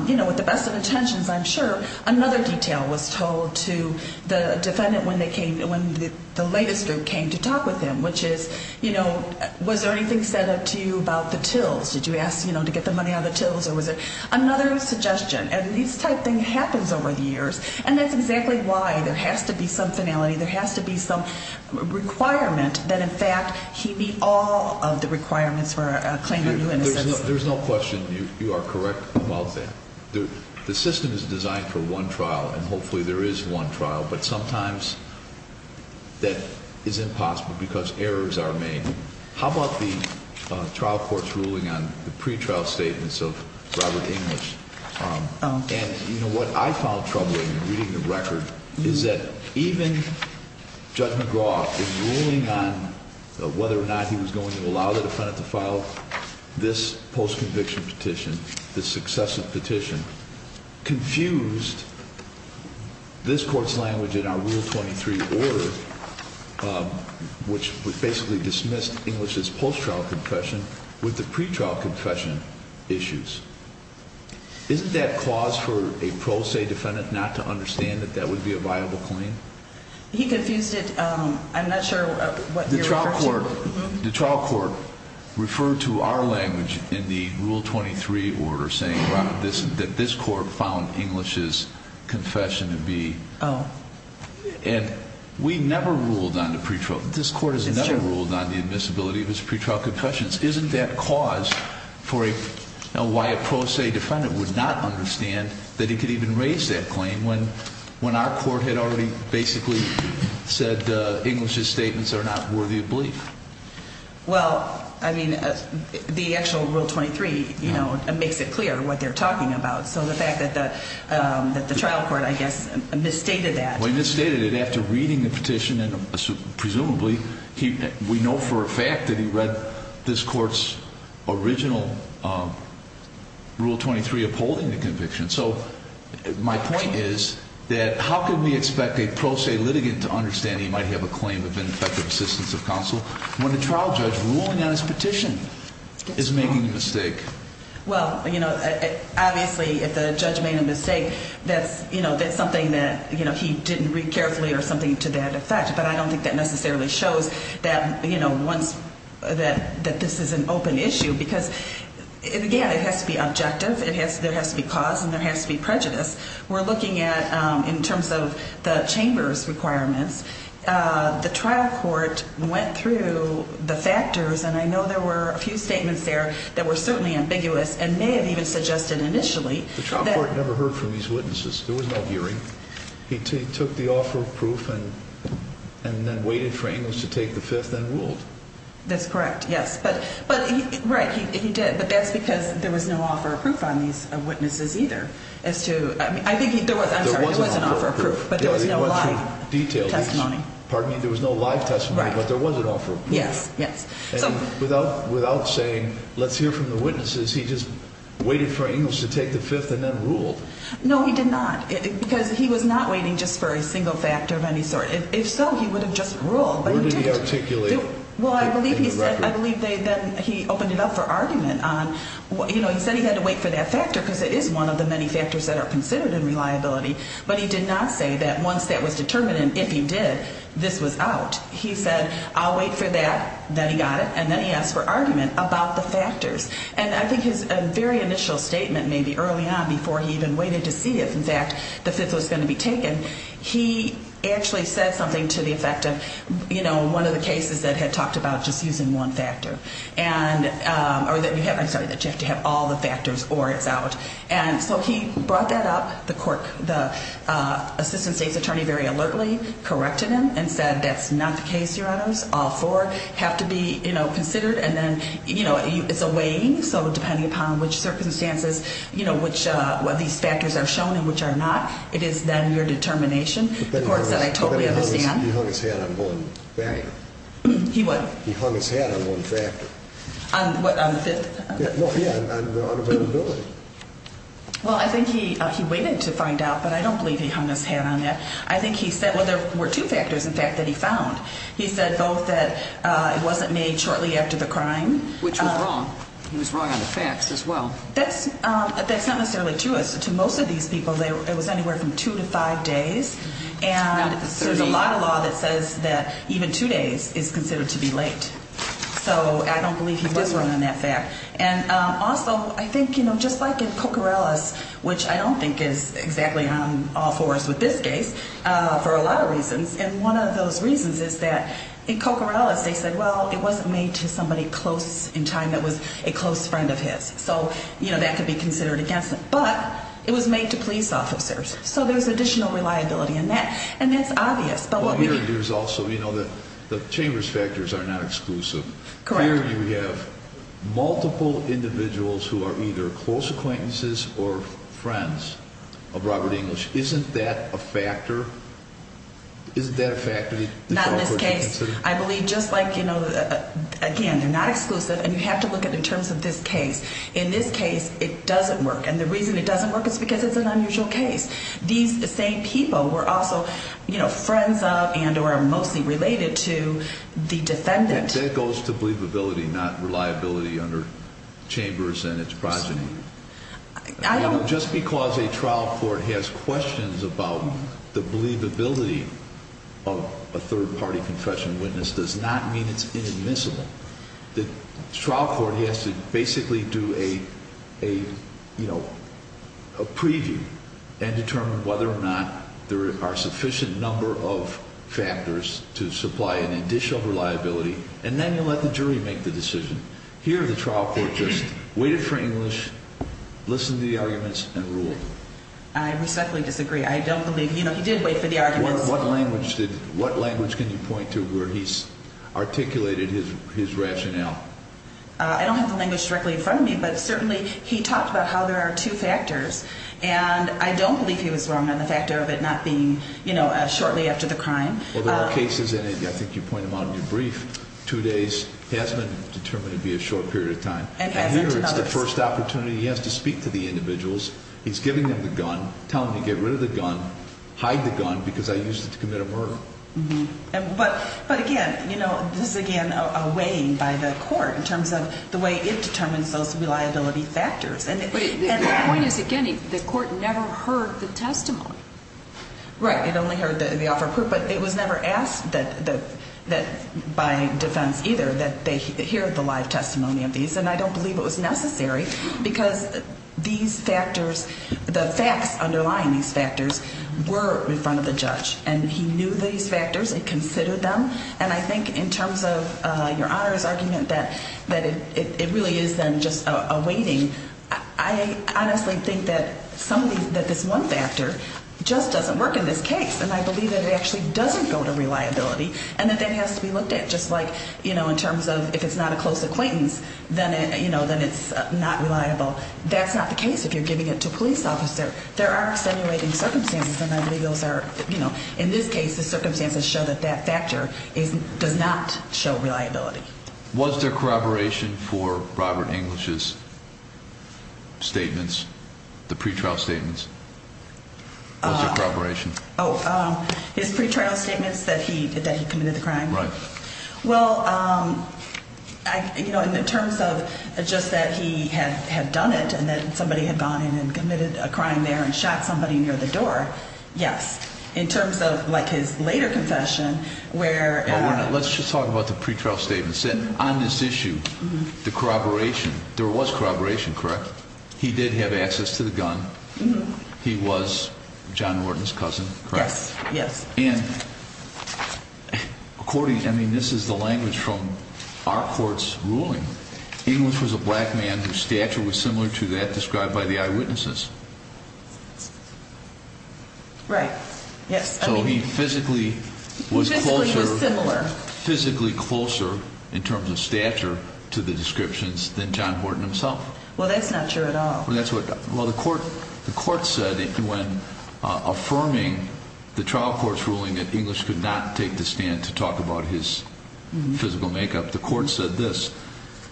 you know, with the best of intentions, I'm sure, another detail was told to the defendant when the latest group came to talk with him, which is, you know, was there anything said to you about the tills? Did you ask, you know, to get the money on the tills, or was it another suggestion? And this type of thing happens over the years, and that's exactly why there has to be some finality, there has to be some requirement that, in fact, he meet all of the requirements for a claim of new innocence. There's no question you are correct about that. The system is designed for one trial, and hopefully there is one trial, but sometimes that is impossible because errors are made. How about the trial court's ruling on the pretrial statements of Robert English? And, you know, what I found troubling in reading the record is that even Judge McGraw, in ruling on whether or not he was going to allow the defendant to file this post-conviction petition, this successive petition, confused this court's language in our Rule 23 order, which basically dismissed English's post-trial confession with the pretrial confession issues. Isn't that cause for a pro se defendant not to understand that that would be a viable claim? He confused it. I'm not sure what you're referring to. The trial court referred to our language in the Rule 23 order saying, Robert, that this court found English's confession to be. Oh. And we never ruled on the pretrial. This court has never ruled on the admissibility of his pretrial confessions. Isn't that cause for why a pro se defendant would not understand that he could even raise that claim when our court had already basically said English's statements are not worthy of belief? Well, I mean, the actual Rule 23, you know, makes it clear what they're talking about. So the fact that the trial court, I guess, misstated that. Well, he misstated it after reading the petition, and presumably we know for a fact that he read this court's original Rule 23 upholding the conviction. So my point is that how can we expect a pro se litigant to understand he might have a claim of ineffective assistance of counsel when a trial judge ruling on his petition is making a mistake? Well, you know, obviously if the judge made a mistake, that's, you know, that's something that, you know, he didn't read carefully or something to that effect. But I don't think that necessarily shows that, you know, once that this is an open issue. Because, again, it has to be objective. There has to be cause and there has to be prejudice. We're looking at, in terms of the chamber's requirements, the trial court went through the factors, and I know there were a few statements there that were certainly ambiguous and may have even suggested initially. The trial court never heard from these witnesses. There was no hearing. He took the offer of proof and then waited for English to take the fifth and ruled. That's correct, yes. But, right, he did. But that's because there was no offer of proof on these witnesses either as to, I mean, I think he, there was, I'm sorry, there was an offer of proof, but there was no live testimony. Pardon me, there was no live testimony, but there was an offer of proof. Yes, yes. And without saying, let's hear from the witnesses, he just waited for English to take the fifth and then ruled. No, he did not, because he was not waiting just for a single factor of any sort. If so, he would have just ruled, but he didn't. Where did he articulate the record? Well, I believe he said, I believe then he opened it up for argument on, you know, he said he had to wait for that factor because it is one of the many factors that are considered in reliability, but he did not say that once that was determined and if he did, this was out. He said, I'll wait for that, then he got it, and then he asked for argument about the factors. And I think his very initial statement maybe early on before he even waited to see if, in fact, the fifth was going to be taken, he actually said something to the effect of, you know, one of the cases that had talked about just using one factor. And, or that you have, I'm sorry, that you have to have all the factors or it's out. And so he brought that up. The court, the assistant state's attorney very alertly corrected him and said, that's not the case, your honors. All four have to be, you know, considered and then, you know, it's a weighing, so depending upon which circumstances, you know, which of these factors are shown and which are not, it is then your determination. The court said, I totally understand. He hung his hat on one factor. He what? He hung his hat on one factor. On what, on the fifth? No, yeah, on reliability. Well, I think he waited to find out, but I don't believe he hung his hat on that. I think he said, well, there were two factors, in fact, that he found. He said both that it wasn't made shortly after the crime. Which was wrong. He was wrong on the facts as well. That's not necessarily true. To most of these people, it was anywhere from two to five days. And there's a lot of law that says that even two days is considered to be late. So I don't believe he was wrong on that fact. And also, I think, you know, just like in Coccarellas, which I don't think is exactly on all fours with this case, for a lot of reasons. And one of those reasons is that in Coccarellas, they said, well, it wasn't made to somebody close in time that was a close friend of his. So, you know, that could be considered against him. But it was made to police officers. So there's additional reliability in that. And that's obvious. But what we need to do is also, you know, the Chambers factors are not exclusive. Correct. Here we have multiple individuals who are either close acquaintances or friends of Robert English. Isn't that a factor? Isn't that a factor? Not in this case. I believe just like, you know, again, they're not exclusive. And you have to look at it in terms of this case. In this case, it doesn't work. And the reason it doesn't work is because it's an unusual case. These same people were also, you know, friends of and or mostly related to the defendant. That goes to believability, not reliability under Chambers and its progeny. Just because a trial court has questions about the believability of a third-party confession witness does not mean it's inadmissible. The trial court has to basically do a, you know, a preview and determine whether or not there are sufficient number of factors to supply an additional reliability. And then you let the jury make the decision. Here the trial court just waited for English, listened to the arguments, and ruled. I respectfully disagree. I don't believe, you know, he did wait for the arguments. What language can you point to where he's articulated his rationale? I don't have the language directly in front of me, but certainly he talked about how there are two factors. And I don't believe he was wrong on the factor of it not being, you know, shortly after the crime. Well, there are cases, and I think you point them out in your brief, two days has been determined to be a short period of time. And here it's the first opportunity. He has to speak to the individuals. He's giving them the gun, telling them to get rid of the gun, hide the gun because I used it to commit a murder. But again, you know, this is, again, a weighing by the court in terms of the way it determines those reliability factors. Right. It only heard the offer of proof, but it was never asked by defense either that they hear the live testimony of these. And I don't believe it was necessary because these factors, the facts underlying these factors were in front of the judge. And he knew these factors and considered them. And I think in terms of Your Honor's argument that it really is then just a waiting, I honestly think that somebody that this one factor just doesn't work in this case. And I believe that it actually doesn't go to reliability and that that has to be looked at. Just like, you know, in terms of if it's not a close acquaintance, then, you know, then it's not reliable. That's not the case. If you're giving it to a police officer, there are simulating circumstances. And I believe those are, you know, in this case, the circumstances show that that factor is does not show reliability. Was there corroboration for Robert English's statements, the pretrial statements? Was there corroboration? Oh, his pretrial statements that he committed the crime? Right. Well, you know, in terms of just that he had done it and then somebody had gone in and committed a crime there and shot somebody near the door. Yes. In terms of like his later confession where. Let's just talk about the pretrial statements. On this issue, the corroboration, there was corroboration, correct? He did have access to the gun. He was John Morton's cousin, correct? Yes. And according, I mean, this is the language from our court's ruling. English was a black man whose stature was similar to that described by the eyewitnesses. Right. Yes. So he physically was closer. Physically was similar. Physically closer in terms of stature to the descriptions than John Morton himself. Well, that's not true at all. Well, that's what the court said when affirming the trial court's ruling that English could not take the stand to talk about his physical makeup. The court said this.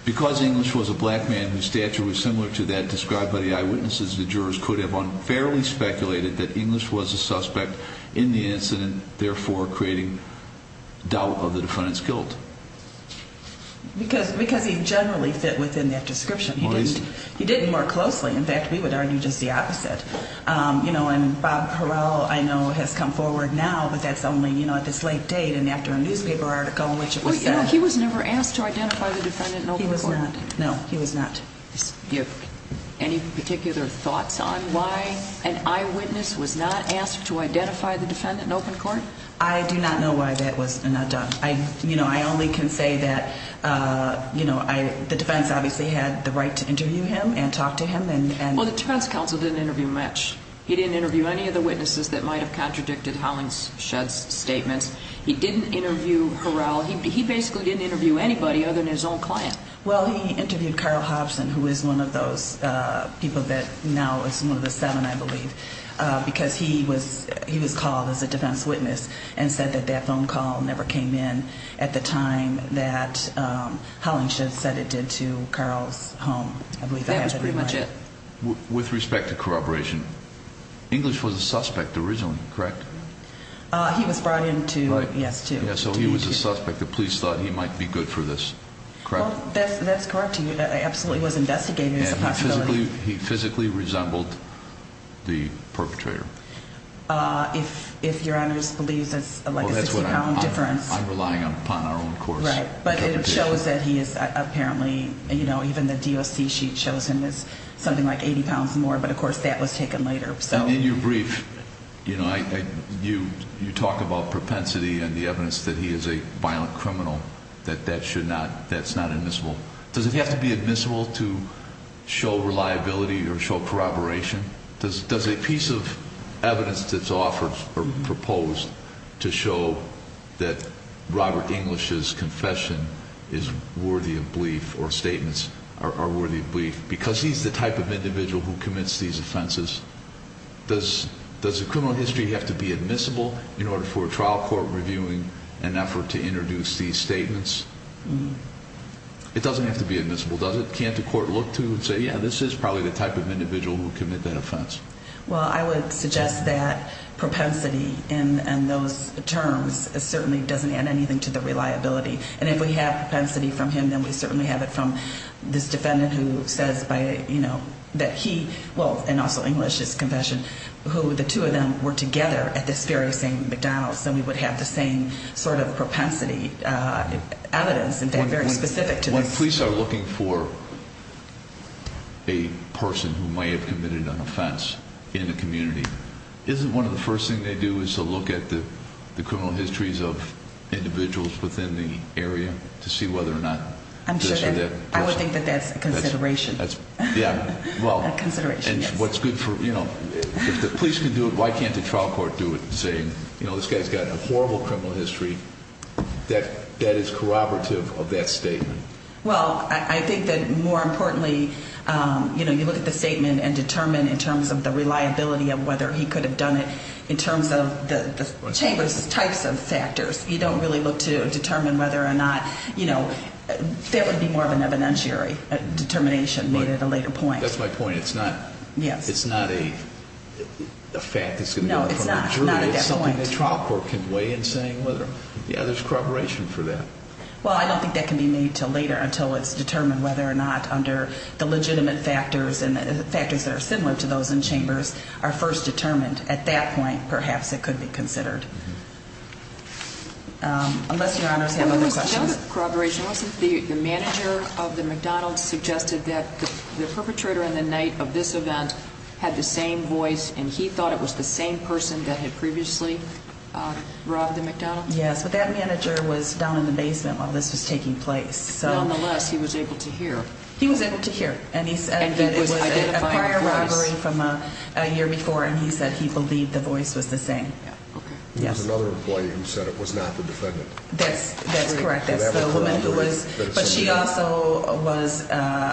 Because English was a black man whose stature was similar to that described by the eyewitnesses, the jurors could have unfairly speculated that English was a suspect in the incident, therefore creating doubt of the defendant's guilt. Because he generally fit within that description. He didn't work closely. In fact, we would argue just the opposite. You know, and Bob Perel, I know, has come forward now, but that's only, you know, at this late date and after a newspaper article in which it was said. No, he was never asked to identify the defendant in open court. He was not. No, he was not. Do you have any particular thoughts on why an eyewitness was not asked to identify the defendant in open court? I do not know why that was not done. You know, I only can say that, you know, the defense obviously had the right to interview him and talk to him. Well, the defense counsel didn't interview much. He didn't interview any of the witnesses that might have contradicted Hollingshed's statements. He didn't interview Harrell. He basically didn't interview anybody other than his own client. Well, he interviewed Carl Hobson, who is one of those people that now is one of the seven, I believe, because he was called as a defense witness and said that that phone call never came in at the time that Hollingshed said it did to Carl's home. That was pretty much it. With respect to corroboration, English was a suspect originally, correct? He was brought in to, yes, to be interviewed. So he was a suspect. The police thought he might be good for this, correct? That's correct. He absolutely was investigated as a possibility. And he physically resembled the perpetrator? If your Honor just believes it's like a 60-pound difference. I'm relying upon our own court's interpretation. Right, but it shows that he is apparently, you know, even the DOC sheet shows him as something like 80 pounds more. But, of course, that was taken later. In your brief, you know, you talk about propensity and the evidence that he is a violent criminal, that that's not admissible. Does it have to be admissible to show reliability or show corroboration? Does a piece of evidence that's offered or proposed to show that Robert English's confession is worthy of belief or statements are worthy of belief? Because he's the type of individual who commits these offenses, does the criminal history have to be admissible in order for a trial court reviewing an effort to introduce these statements? It doesn't have to be admissible, does it? Can't the court look to and say, yeah, this is probably the type of individual who committed that offense? Well, I would suggest that propensity in those terms certainly doesn't add anything to the reliability. And if we have propensity from him, then we certainly have it from this defendant who says by, you know, that he, well, and also English's confession, who the two of them were together at this very same McDonald's. And we would have the same sort of propensity evidence, in fact, very specific to this. If the police are looking for a person who may have committed an offense in a community, isn't one of the first things they do is to look at the criminal histories of individuals within the area to see whether or not this or that person? I would think that that's a consideration. Yeah, well, and what's good for, you know, if the police can do it, why can't the trial court do it? You know, this guy's got a horrible criminal history that is corroborative of that statement. Well, I think that more importantly, you know, you look at the statement and determine in terms of the reliability of whether he could have done it in terms of the Chamber's types of factors. You don't really look to determine whether or not, you know, that would be more of an evidentiary determination made at a later point. That's my point. It's not a fact that's going to be in front of a jury. It's not a definite point. It's something the trial court can weigh in saying whether, yeah, there's corroboration for that. Well, I don't think that can be made until later until it's determined whether or not under the legitimate factors and factors that are similar to those in Chambers are first determined. At that point, perhaps it could be considered. Unless Your Honors have other questions. The manager of the McDonald's suggested that the perpetrator in the night of this event had the same voice, and he thought it was the same person that had previously robbed the McDonald's? Yes, but that manager was down in the basement while this was taking place. Nonetheless, he was able to hear. He was able to hear. And he said it was a prior robbery from a year before, and he said he believed the voice was the same. That's correct. That's the woman who was. But she also was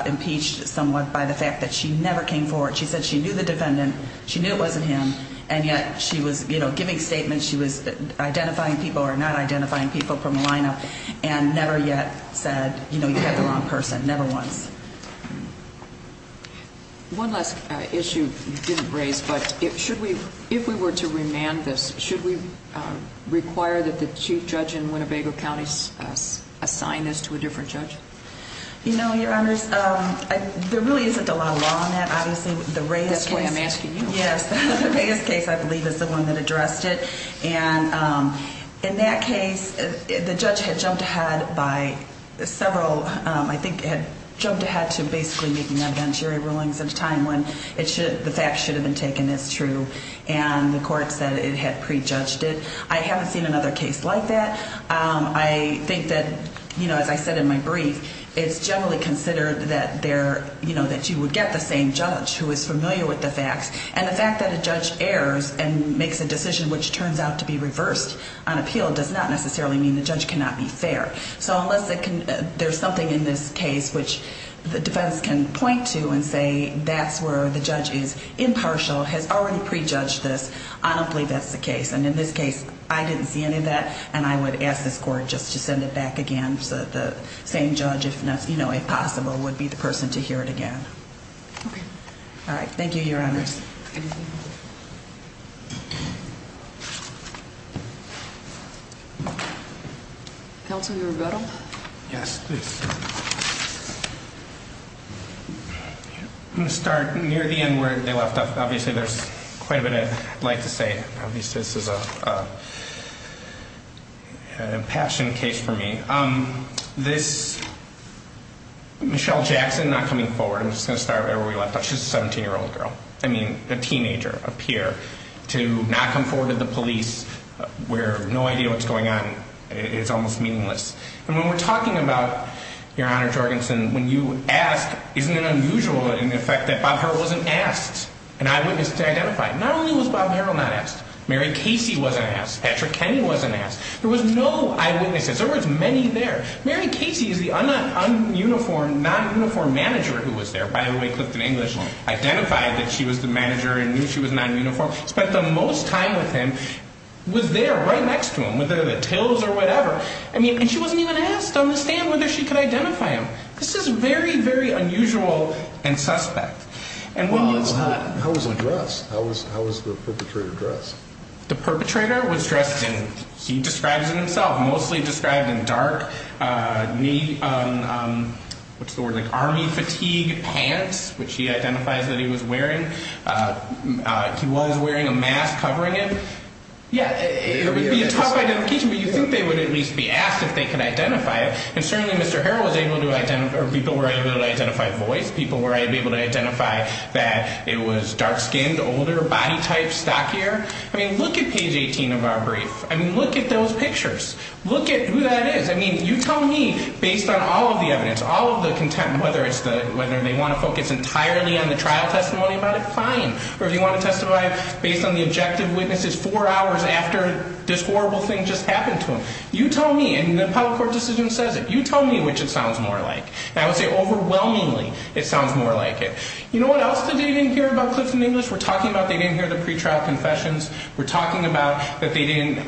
impeached somewhat by the fact that she never came forward. She said she knew the defendant. She knew it wasn't him. And yet she was, you know, giving statements. She was identifying people or not identifying people from the lineup and never yet said, you know, you had the wrong person, never once. One last issue you didn't raise, but if we were to remand this, should we require that the chief judge in Winnebago County assign this to a different judge? You know, Your Honors, there really isn't a lot of law on that, obviously. That's why I'm asking you. Yes. The biggest case, I believe, is the one that addressed it. And in that case, the judge had jumped ahead by several ‑‑ I think had jumped ahead to basically making evidentiary rulings at a time when the facts should have been taken as true. And the court said it had prejudged it. I haven't seen another case like that. I think that, you know, as I said in my brief, it's generally considered that there, you know, that you would get the same judge who is familiar with the facts. And the fact that a judge errs and makes a decision which turns out to be reversed on appeal does not necessarily mean the judge cannot be fair. So unless there's something in this case which the defense can point to and say that's where the judge is impartial, has already prejudged this, I don't believe that's the case. And in this case, I didn't see any of that, and I would ask this court just to send it back again so that the same judge, if possible, would be the person to hear it again. Okay. All right. Thank you, Your Honors. Thank you. Counsel, your rebuttal? Yes, please. I'm going to start near the end where they left off. Obviously, there's quite a bit I'd like to say. Obviously, this is an impassioned case for me. This Michelle Jackson not coming forward, I'm just going to start right where we left off. She's a 17-year-old girl. I mean, a teenager, a peer, to not come forward to the police where no idea what's going on is almost meaningless. And when we're talking about, Your Honor Jorgensen, when you ask, isn't it unusual in effect that Bob Harrell wasn't asked an eyewitness to identify? Not only was Bob Harrell not asked, Mary Casey wasn't asked, Patrick Kenny wasn't asked. There was no eyewitnesses. There was many there. Mary Casey is the un-uniformed, non-uniformed manager who was there. By the way, Clifton English identified that she was the manager and knew she was non-uniform. Spent the most time with him. Was there right next to him with the tills or whatever. And she wasn't even asked on the stand whether she could identify him. This is very, very unusual and suspect. How was he dressed? How was the perpetrator dressed? The perpetrator was dressed in, he describes it himself, mostly described in dark knee, what's the word, like army fatigue pants, which he identifies that he was wearing. He was wearing a mask covering him. Yeah, it would be a tough identification, but you think they would at least be asked if they could identify him. And certainly Mr. Harrell was able to identify, or people were able to identify voice. People were able to identify that it was dark skinned, older, body type, stockier. I mean, look at page 18 of our brief. I mean, look at those pictures. Look at who that is. I mean, you tell me, based on all of the evidence, all of the content, whether it's the, whether they want to focus entirely on the trial testimony about it, fine. Or if you want to testify based on the objective witnesses four hours after this horrible thing just happened to him. You tell me, and the appellate court decision says it. You tell me which it sounds more like. I would say overwhelmingly it sounds more like it. You know what else they didn't hear about Clifton English? We're talking about they didn't hear the pretrial confessions. We're talking about that they didn't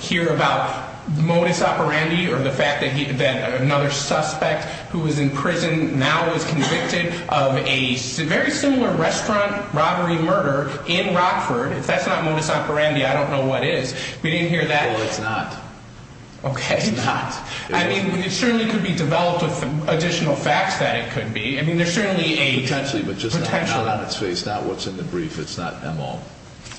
hear about modus operandi or the fact that another suspect who was in prison now was convicted of a very similar restaurant robbery murder in Rockford. If that's not modus operandi, I don't know what is. We didn't hear that. Well, it's not. Okay. It's not. I mean, it certainly could be developed with additional facts that it could be. I mean, there's certainly a. Potentially, but just. Potentially. Not on its face, not what's in the brief. It's not them all.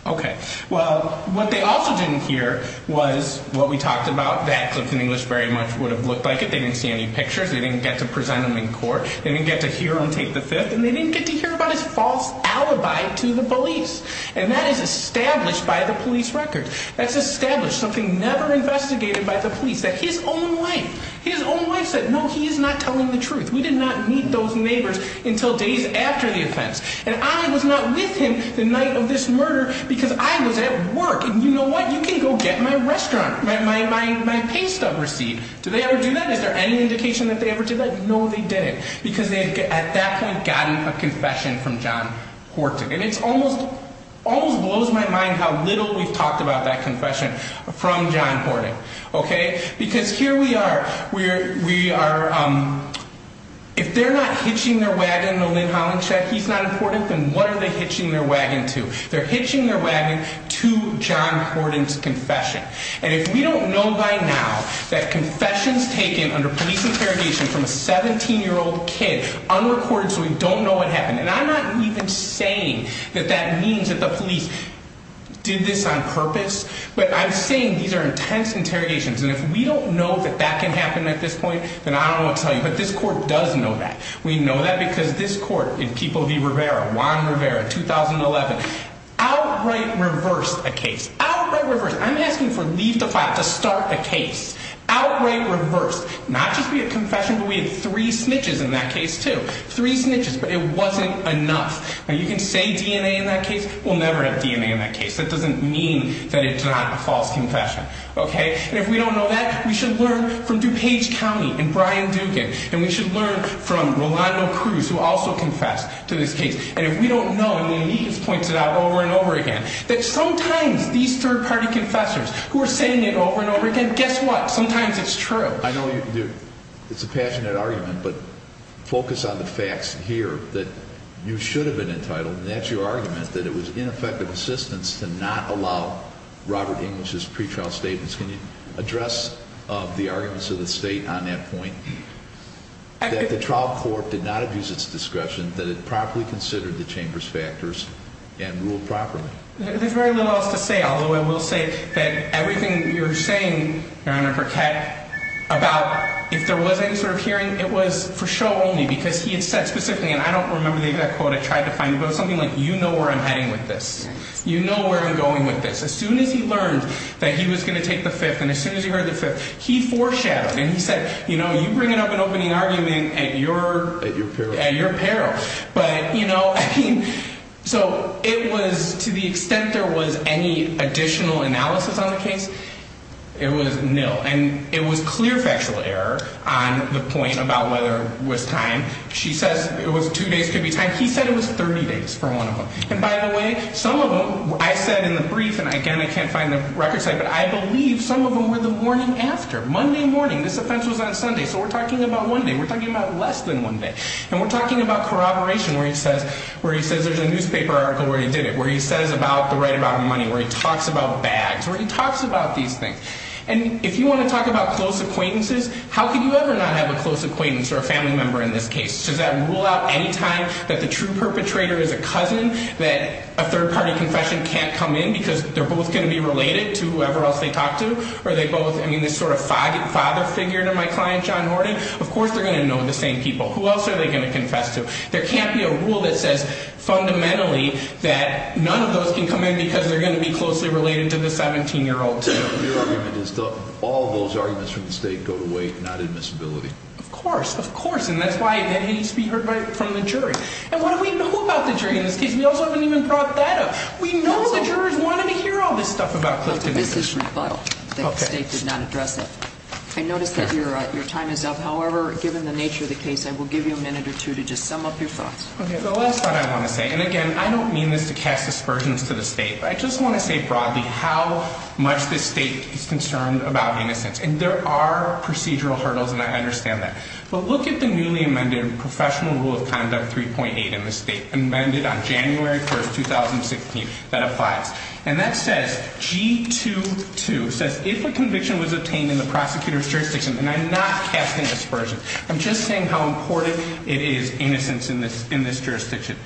Okay. Well, what they also didn't hear was what we talked about, that Clifton English very much would have looked like it. They didn't see any pictures. They didn't get to present him in court. They didn't get to hear him take the fifth. And they didn't get to hear about his false alibi to the police. And that is established by the police record. That's established. Something never investigated by the police. That his own wife. His own wife said, no, he is not telling the truth. We did not meet those neighbors until days after the offense. And I was not with him the night of this murder because I was at work. And you know what? You can go get my restaurant. My, my, my, my pay stub receipt. Do they ever do that? Is there any indication that they ever did that? No, they didn't. Because they had at that point gotten a confession from John Horton. And it's almost, almost blows my mind how little we've talked about that confession from John Horton. Okay? Because here we are. We're, we are, um, if they're not hitching their wagon to Lynn Hollinshed, he's not important. Then what are they hitching their wagon to? They're hitching their wagon to John Horton's confession. And if we don't know by now that confessions taken under police interrogation from a 17-year-old kid, unrecorded so we don't know what happened. And I'm not even saying that that means that the police did this on purpose. But I'm saying these are intense interrogations. And if we don't know that that can happen at this point, then I don't know what to tell you. But this court does know that. We know that because this court in Keeble v. Rivera, Juan Rivera, 2011, outright reversed a case. Outright reversed. I'm asking for leave to file to start a case. Outright reversed. Not just be a confession, but we had three snitches in that case, too. Three snitches. But it wasn't enough. Now, you can say DNA in that case. We'll never have DNA in that case. That doesn't mean that it's not a false confession. Okay? And if we don't know that, we should learn from DuPage County and Brian Dugan. And we should learn from Rolando Cruz, who also confessed to this case. And if we don't know, and he has pointed out over and over again, that sometimes these third-party confessors who are saying it over and over again, guess what? Sometimes it's true. I know it's a passionate argument, but focus on the facts here that you should have been entitled, and that's your argument, that it was ineffective assistance to not allow Robert English's pretrial statements. Can you address the arguments of the State on that point? That the trial court did not abuse its discretion, that it properly considered the Chamber's factors and ruled properly. There's very little else to say, although I will say that everything you're saying, Your Honor, about if there was any sort of hearing, it was for show only, because he had said specifically, and I don't remember the exact quote I tried to find, but it was something like, you know where I'm heading with this. You know where I'm going with this. As soon as he learned that he was going to take the fifth, and as soon as he heard the fifth, he foreshadowed, and he said, you know, you're bringing up an opening argument at your peril. But, you know, I mean, so it was to the extent there was any additional analysis on the case, it was nil. And it was clear factual error on the point about whether it was time. She says it was two days could be time. He said it was 30 days for one of them. And by the way, some of them, I said in the brief, and again, I can't find the record site, but I believe some of them were the morning after, Monday morning. This offense was on Sunday, so we're talking about one day. We're talking about less than one day. And we're talking about corroboration where he says there's a newspaper article where he did it, where he says about the right amount of money, where he talks about bags, where he talks about these things. And if you want to talk about close acquaintances, how could you ever not have a close acquaintance or a family member in this case? Does that rule out any time that the true perpetrator is a cousin that a third-party confession can't come in because they're both going to be related to whoever else they talk to? Are they both, I mean, this sort of father figure to my client, John Horton? Of course they're going to know the same people. Who else are they going to confess to? There can't be a rule that says fundamentally that none of those can come in because they're going to be closely related to the 17-year-old too. Your argument is that all those arguments from the state go to weight, not admissibility. Of course, of course, and that's why that needs to be heard from the jury. And what do we know about the jury in this case? We also haven't even brought that up. We know the jurors wanted to hear all this stuff about Clifton. That's a business rebuttal that the state did not address that. I notice that your time is up. However, given the nature of the case, I will give you a minute or two to just sum up your thoughts. Okay, the last thought I want to say, and again, I don't mean this to cast aspersions to the state, but I just want to say broadly how much this state is concerned about innocence. And there are procedural hurdles, and I understand that. But look at the newly amended Professional Rule of Conduct 3.8 in the state, amended on January 1, 2016, that applies. And that says, G22 says, If a conviction was obtained in the prosecutor's jurisdiction, and I'm not casting aspersions. I'm just saying how important it is innocence in this jurisdiction.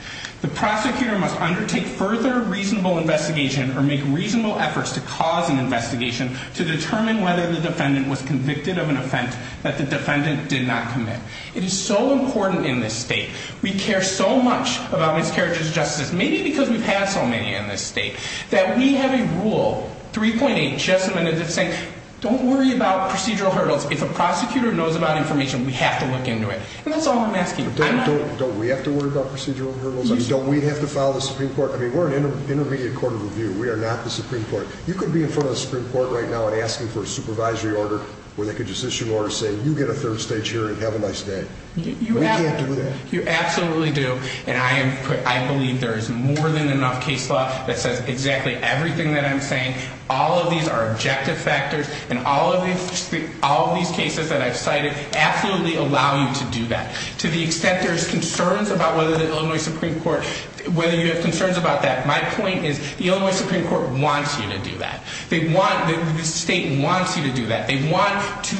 The prosecutor must undertake further reasonable investigation or make reasonable efforts to cause an investigation to determine whether the defendant was convicted of an offense that the defendant did not commit. It is so important in this state. We care so much about miscarriages of justice, maybe because we've had so many in this state, that we have a rule, 3.8, just amended that's saying, Don't worry about procedural hurdles. If a prosecutor knows about information, we have to look into it. And that's all I'm asking. Don't we have to worry about procedural hurdles? Don't we have to follow the Supreme Court? I mean, we're an intermediate court of review. We are not the Supreme Court. You could be in front of the Supreme Court right now and asking for a supervisory order where they could just issue an order saying, You get a third stage hearing, have a nice day. We can't do that. You absolutely do. And I believe there is more than enough case law that says exactly everything that I'm saying. All of these are objective factors. And all of these cases that I've cited absolutely allow you to do that to the extent there's concerns about whether the Illinois Supreme Court, whether you have concerns about that. My point is the Illinois Supreme Court wants you to do that. The state wants you to do that. They want to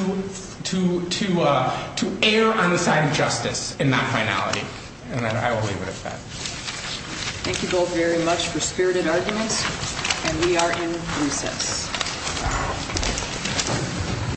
err on the side of justice and not finality. And I will leave it at that. Thank you both very much for spirited arguments. And we are in recess.